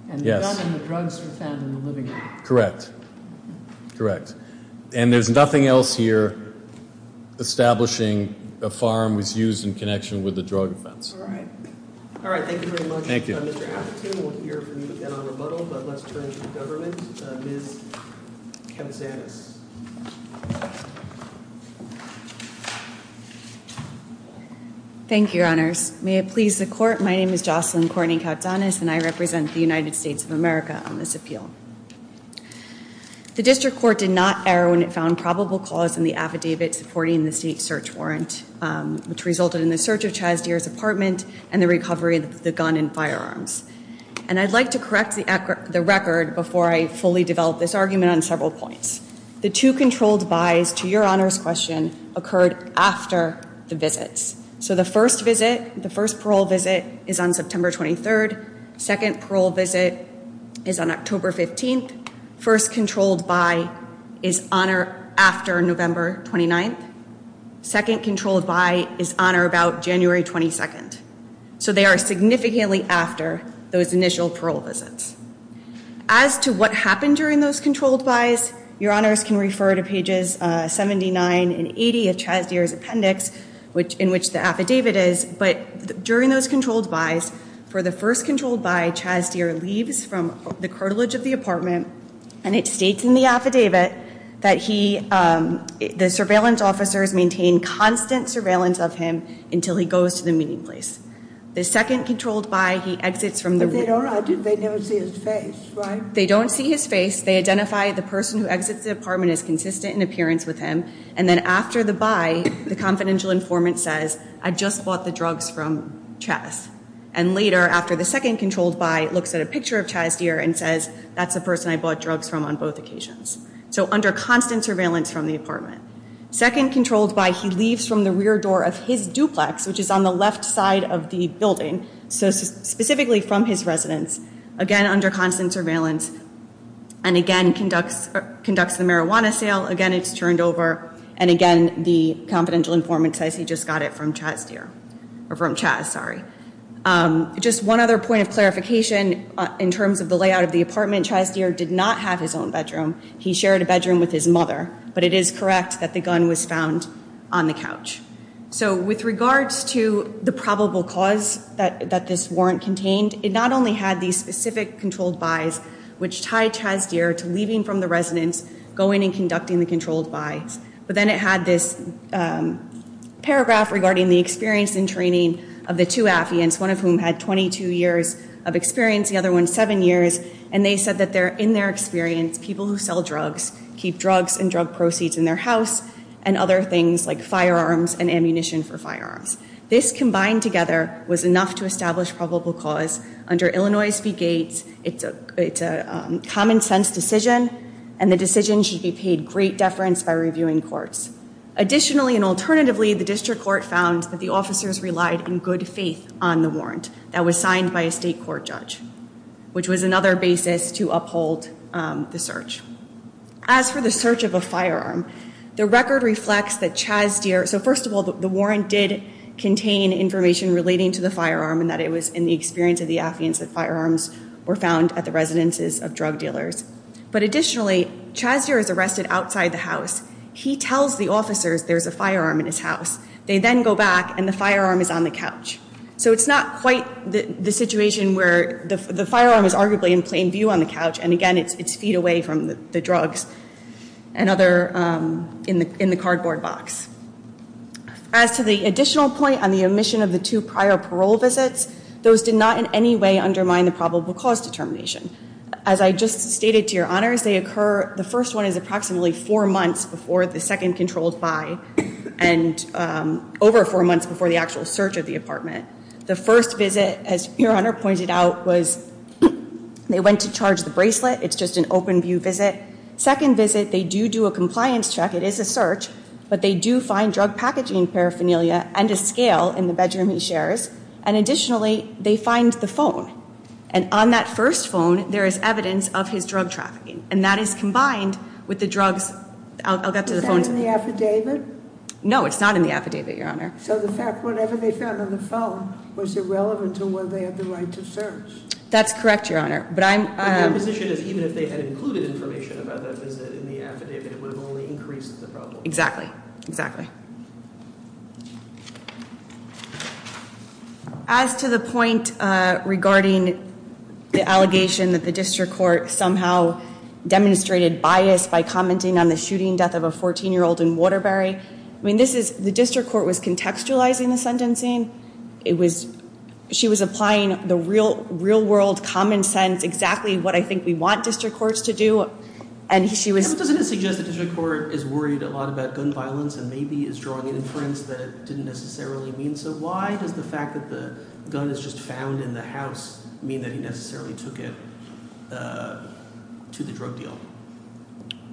And the gun and the drugs were found in the living room. Correct. Correct. And there's nothing else here establishing the farm was used in connection with the drug abuse. All right. All right, thank you very much. Thank you. We'll hear from the Honorable Muddle, but let's turn to the government. Ms. Kavazanis. Thank you, Your Honors. May it please the Court, my name is Jocelyn Cornyn Kavazanis and I represent the United States of America on this appeal. The District Court did not err when it found probable cause in the affidavit supporting the state search warrant, which resulted in the search of Chas Deer's apartment and the recovery of the gun and firearms. And I'd like to correct the record before I fully develop this argument on several points. The two controlled buys, to Your Honor's question, occurred after the visits. So the first visit, the first parole visit, is on September 23rd. Second parole visit is on October 15th. First controlled buy is on or after November 29th. Second controlled buy is on or about January 22nd. So they are significantly after those initial parole visits. As to what happened during those controlled buys, Your Honors can refer to pages 79 and 80 of Chas Deer's appendix, in which the affidavit is. But during those controlled buys, for the first controlled buy, Chas Deer leaves from the cartilage of the apartment and it states in the affidavit that the surveillance officers maintain constant surveillance of him until he goes to the meeting place. The second controlled buy, he exits from the meeting place. But they don't see his face, right? They don't see his face. They identify the person who exits the apartment as consistent in appearance with him. And then after the buy, the confidential informant says, I just bought the drugs from Chas. And later, after the second controlled buy, looks at a picture of Chas Deer and says, that's the person I bought drugs from on both occasions. So under constant surveillance from the apartment. Second controlled buy, he leaves from the rear door of his duplex, which is on the left side of the building, so specifically from his residence. Again, under constant surveillance. And again, conducts a marijuana sale. Again, it's turned over. And again, the confidential informant says he just got it from Chas Deer. Or from Chas, sorry. Just one other point of clarification in terms of the layout of the apartment. Chas Deer did not have his own bedroom. He shared a bedroom with his mother. But it is correct that the gun was found on the couch. So with regards to the probable cause that this warrant contained, it not only had these specific controlled buys, which tied Chas Deer to leaving from the residence, going and conducting the controlled buy. But then it had this paragraph regarding the experience and training of the two Affians, one of whom had 22 years of experience, the other one seven years. And they said that in their experience, people who sell drugs keep drugs and drug proceeds in their house and other things like firearms and ammunition for firearms. This combined together was enough to establish probable cause. Under Illinois v. Gates, it's a common sense decision. And the decision should be paid great deference by reviewing courts. Additionally and alternatively, the district court found that the officers relied in good faith on the warrant that was signed by a state court judge. Which was another basis to uphold the search. As for the search of a firearm, the record reflects that Chas Deer, so first of all, the warrant did contain information relating to the firearm and that it was in the experience of the Affians that firearms were found at the residences of drug dealers. But additionally, Chas Deer is arrested outside the house. He tells the officers there's a firearm in his house. They then go back and the firearm is on the couch. So it's not quite the situation where the firearm is arguably in plain view on the couch. And again, it's feet away from the drugs and other, in the cardboard box. As to the additional point on the omission of the two prior parole visits, those did not in any way undermine the probable cause determination. As I just stated to your honors, they occur, the first one is approximately four months before the second controlled by and over four months before the actual search of the apartment. The first visit, as your honor pointed out, was they went to charge the bracelet. It's just an open view visit. Second visit, they do do a compliance check. It is a search. But they do find drug packaging paraphernalia and a scale in the bedroom he shares. And additionally, they find the phone. And on that first phone, there is evidence of his drug trafficking. And that is combined with the drugs. Is that in the affidavit? No, it's not in the affidavit, your honor. So the fact, whatever they found on the phone was irrelevant to whether they had the right to search. That's correct, your honor. But I'm... But their position is even if they had included information about that in the affidavit, it would have only increased the problem. Exactly. Exactly. As to the point regarding the allegation that the district court somehow demonstrated bias by commenting on the shooting death of a 14-year-old in Waterbury, I mean, this is, the district court was contextualizing the sentencing. It was, she was applying the real world common sense, exactly what I think we want district courts to do. And she was... But this doesn't suggest the district court is worried a lot about gun violence and maybe is drawing inference that it didn't necessarily mean so. Why does the fact that the gun is just found in the house mean that he necessarily took it to the drug deal?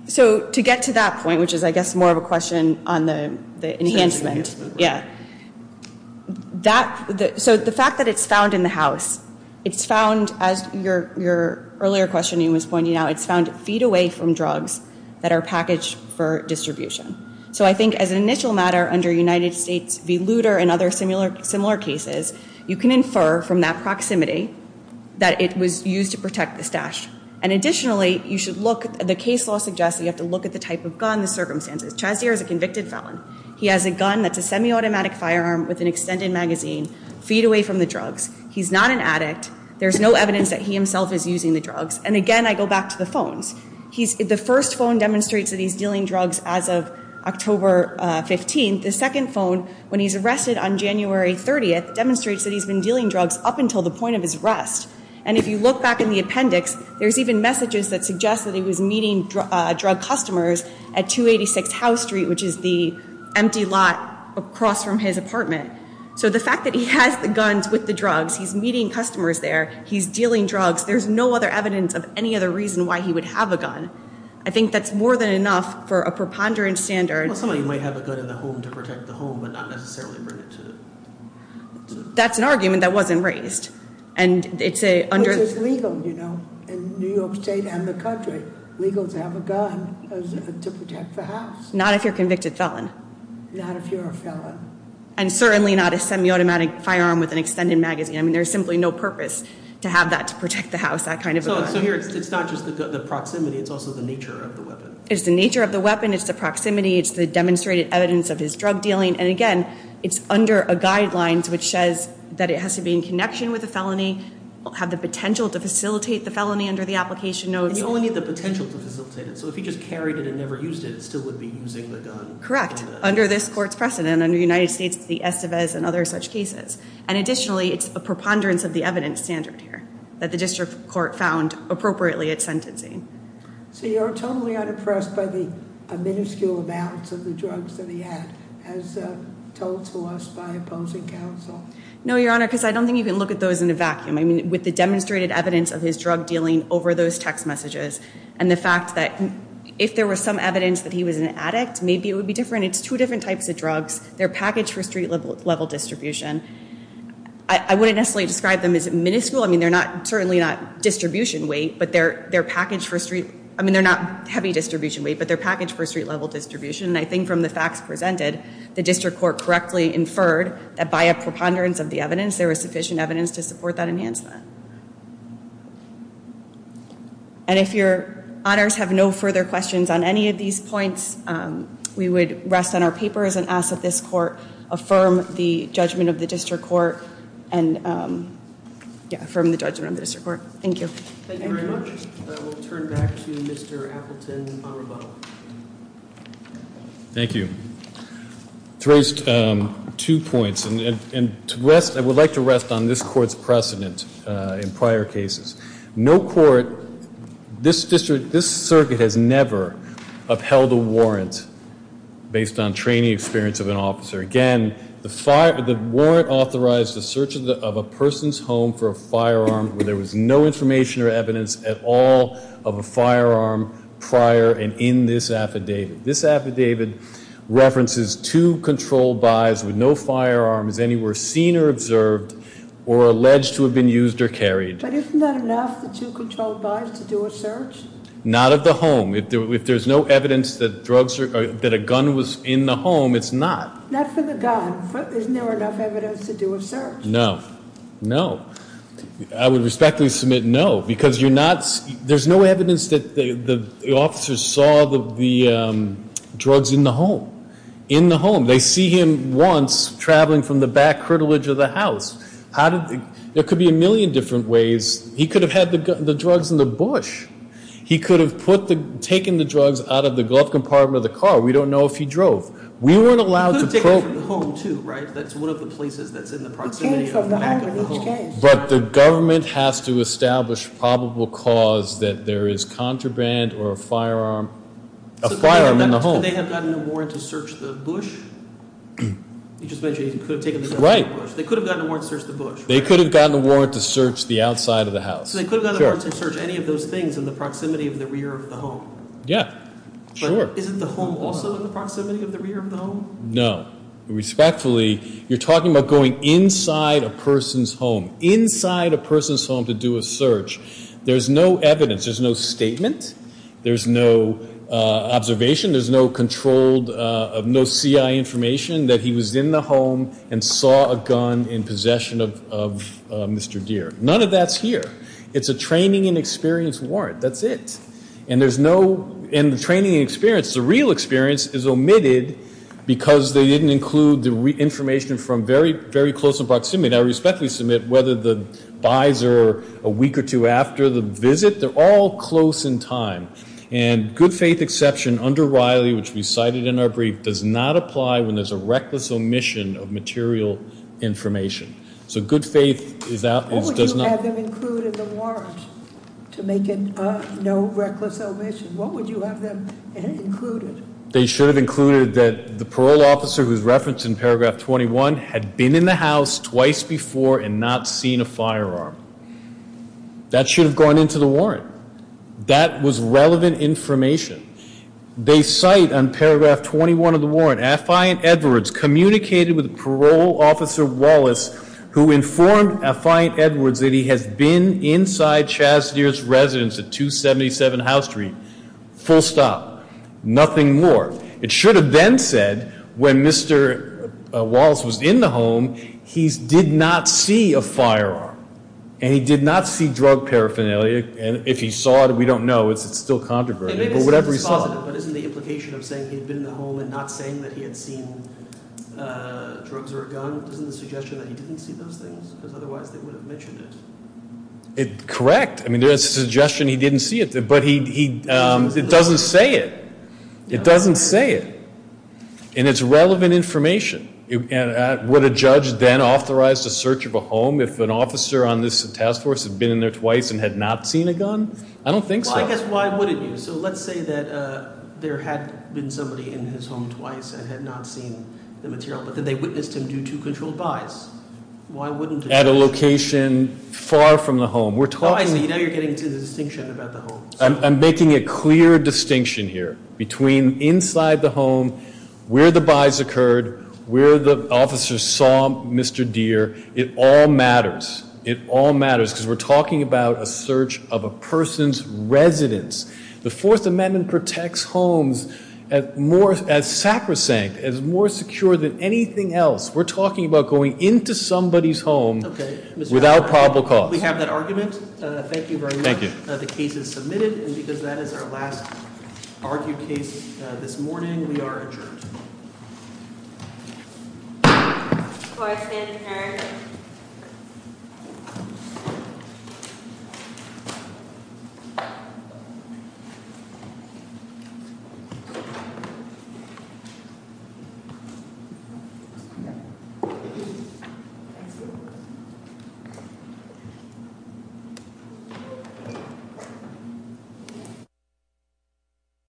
So to get to that point, which is I guess more of a question on the enhancement. Enhancement, yes. Yes. That, so the fact that it's found in the house, it's found, as your earlier question was pointing out, it's found feet away from drugs that are packaged for distribution. So I think as an initial matter under United States v. Luder and other similar cases, you can infer from that proximity that it was used to protect the stash. And additionally, you should look, the case law suggests you have to look at the type of gun, the circumstances. Chazier is a convicted felon. He has a gun that's a semi-automatic firearm with an extended magazine feet away from the drugs. He's not an addict. There's no evidence that he himself is using the drugs. And again, I go back to the phone. The first phone demonstrates that he's dealing drugs as of October 15th. The second phone, when he's arrested on January 30th, demonstrates that he's been dealing drugs up until the point of his arrest. And if you look back in the appendix, there's even messages that suggest that he was meeting drug customers at 286 House Street, which is the empty lot across from his apartment. So the fact that he has the guns with the drugs, he's meeting customers there, he's dealing drugs, there's no other evidence of any other reason why he would have a gun. I think that's more than enough for a preponderance standard. Somebody might have a gun in the home to protect the home, but not necessarily bring it to the home. That's an argument that wasn't raised. But it's legal, you know, in New York State and the country. It's legal to have a gun to protect the house. Not if you're a convicted felon. Not if you're a felon. And certainly not a semi-automatic firearm with an extended magazine. I mean, there's simply no purpose to have that to protect the house, that kind of a gun. So here, it's not just the proximity, it's also the nature of the weapon. It's the nature of the weapon, it's the proximity, it's the demonstrated evidence of his drug dealing. And again, it's under a guideline which says that it has to be in connection with a felony, have the potential to facilitate the felony under the application note. You only have the potential to facilitate it. So if he just carried it and never used it, he still would be using the gun. Correct, under this court's precedent, under the United States, the SFS, and other such cases. And additionally, it's a preponderance of the evidence standard here, that the district court found appropriately at sentencing. So you're totally unimpressed by the minuscule amounts of the drugs that he had, as told to us by opposing counsel? No, Your Honor, because I don't think you can look at those in a vacuum. I mean, with the demonstrated evidence of his drug dealing over those text messages, and the fact that if there was some evidence that he was an addict, maybe it would be different. It's two different types of drugs. They're packaged for street-level distribution. I wouldn't necessarily describe them as minuscule. I mean, they're certainly not heavy distribution weight, but they're packaged for street-level distribution. And I think from the facts presented, the district court correctly inferred that by a preponderance of the evidence, there was sufficient evidence to support that enhancement. And if Your Honors have no further questions on any of these points, we would rest on our papers and ask that this court affirm the judgment of the district court and affirm the judgment of the district court. Thank you. Thank you very much. We'll turn back to Mr. Appleton and Honorable. Thank you. To raise two points, and I would like to rest on this court's precedence in prior cases. No court, this circuit has never upheld a warrant based on training experience of an officer. Again, the warrant authorized the search of a person's home for a firearm where there was no information or evidence at all of a firearm prior and in this affidavit. This affidavit references two controlled buys with no firearms anywhere seen or observed or alleged to have been used or carried. But isn't that enough that two controlled buys could do a search? Not at the home. If there's no evidence that a gun was in the home, it's not. Not for the gun. But isn't there enough evidence to do a search? No. No. I would respectfully submit no because there's no evidence that the officers saw the drugs in the home. In the home. They see him once traveling from the back curtilage of the house. There could be a million different ways. He could have had the drugs in the bush. He could have taken the drugs out of the glove compartment of the car. We don't know if he drove. We wouldn't allow him to. But the government has to establish probable cause that there is contraband or a firearm in the home. They had the warrant to search the bush. They could have gotten the warrant to search the bush. They could have gotten the warrant to search the outside of the house. So they could have gotten the warrant to search any of those things in the proximity of the rear of the home? Yeah. But isn't the home also in the proximity of the rear of the home? No. Respectfully, you're talking about going inside a person's home. Inside a person's home to do a search. There's no evidence. There's no statement. There's no observation. There's no controlled, no CI information that he was in the home and saw a gun in possession of Mr. Gere. None of that's here. It's a training and experience warrant. That's it. And there's no training and experience. The real experience is omitted because they didn't include the information from very close of proximity. I respectfully submit whether the buys are a week or two after the visit. They're all close in time. And good faith exception under Riley, which we cited in our brief, does not apply when there's a reckless omission of material information. So good faith does not. What would you have them include in the warrant to make it a no reckless omission? What would you have them include? They should have included that the parole officer, who's referenced in paragraph 21, had been in the house twice before and not seen a firearm. That should have gone into the warrant. That was relevant information. They cite on paragraph 21 of the warrant, Affiant Edwards communicated with parole officer Wallace, who informed Affiant Edwards that he had been inside Chaz Gere's residence at 277 Howe Street. Full stop. Nothing more. It should have been said when Mr. Wallace was in the home, he did not see a firearm. And he did not see drug paraphernalia. If he saw it, we don't know. It's still controversial. Whatever he saw. But isn't the implication of saying he'd been in the home and not saying that he had seen drugs or a gun, isn't the suggestion that he didn't see those things? Because otherwise it would have mentioned it. Correct. I mean, there's a suggestion he didn't see it. But he doesn't say it. He doesn't say it. And it's relevant information. Would a judge then authorize the search of a home if an officer on this task force had been in there twice and had not seen a gun? I don't think so. Well, I guess why wouldn't he? So let's say that there had been somebody in his home twice and had not seen the material. But then they witnessed him do two controlled buys. Why wouldn't they? At a location far from the home. Finally, now you're getting to the distinction about the home. I'm making a clear distinction here between inside the home, where the buys occurred, where the officers saw Mr. Gere. It all matters. It all matters because we're talking about a search of a person's residence. The Fourth Amendment protects homes as sacrosanct, as more secure than anything else. We're talking about going into somebody's home without probable cause. We have that argument. Thank you very much. Thank you. The case is submitted. And because that is our last argued case this morning, we are adjourned. Court is adjourned.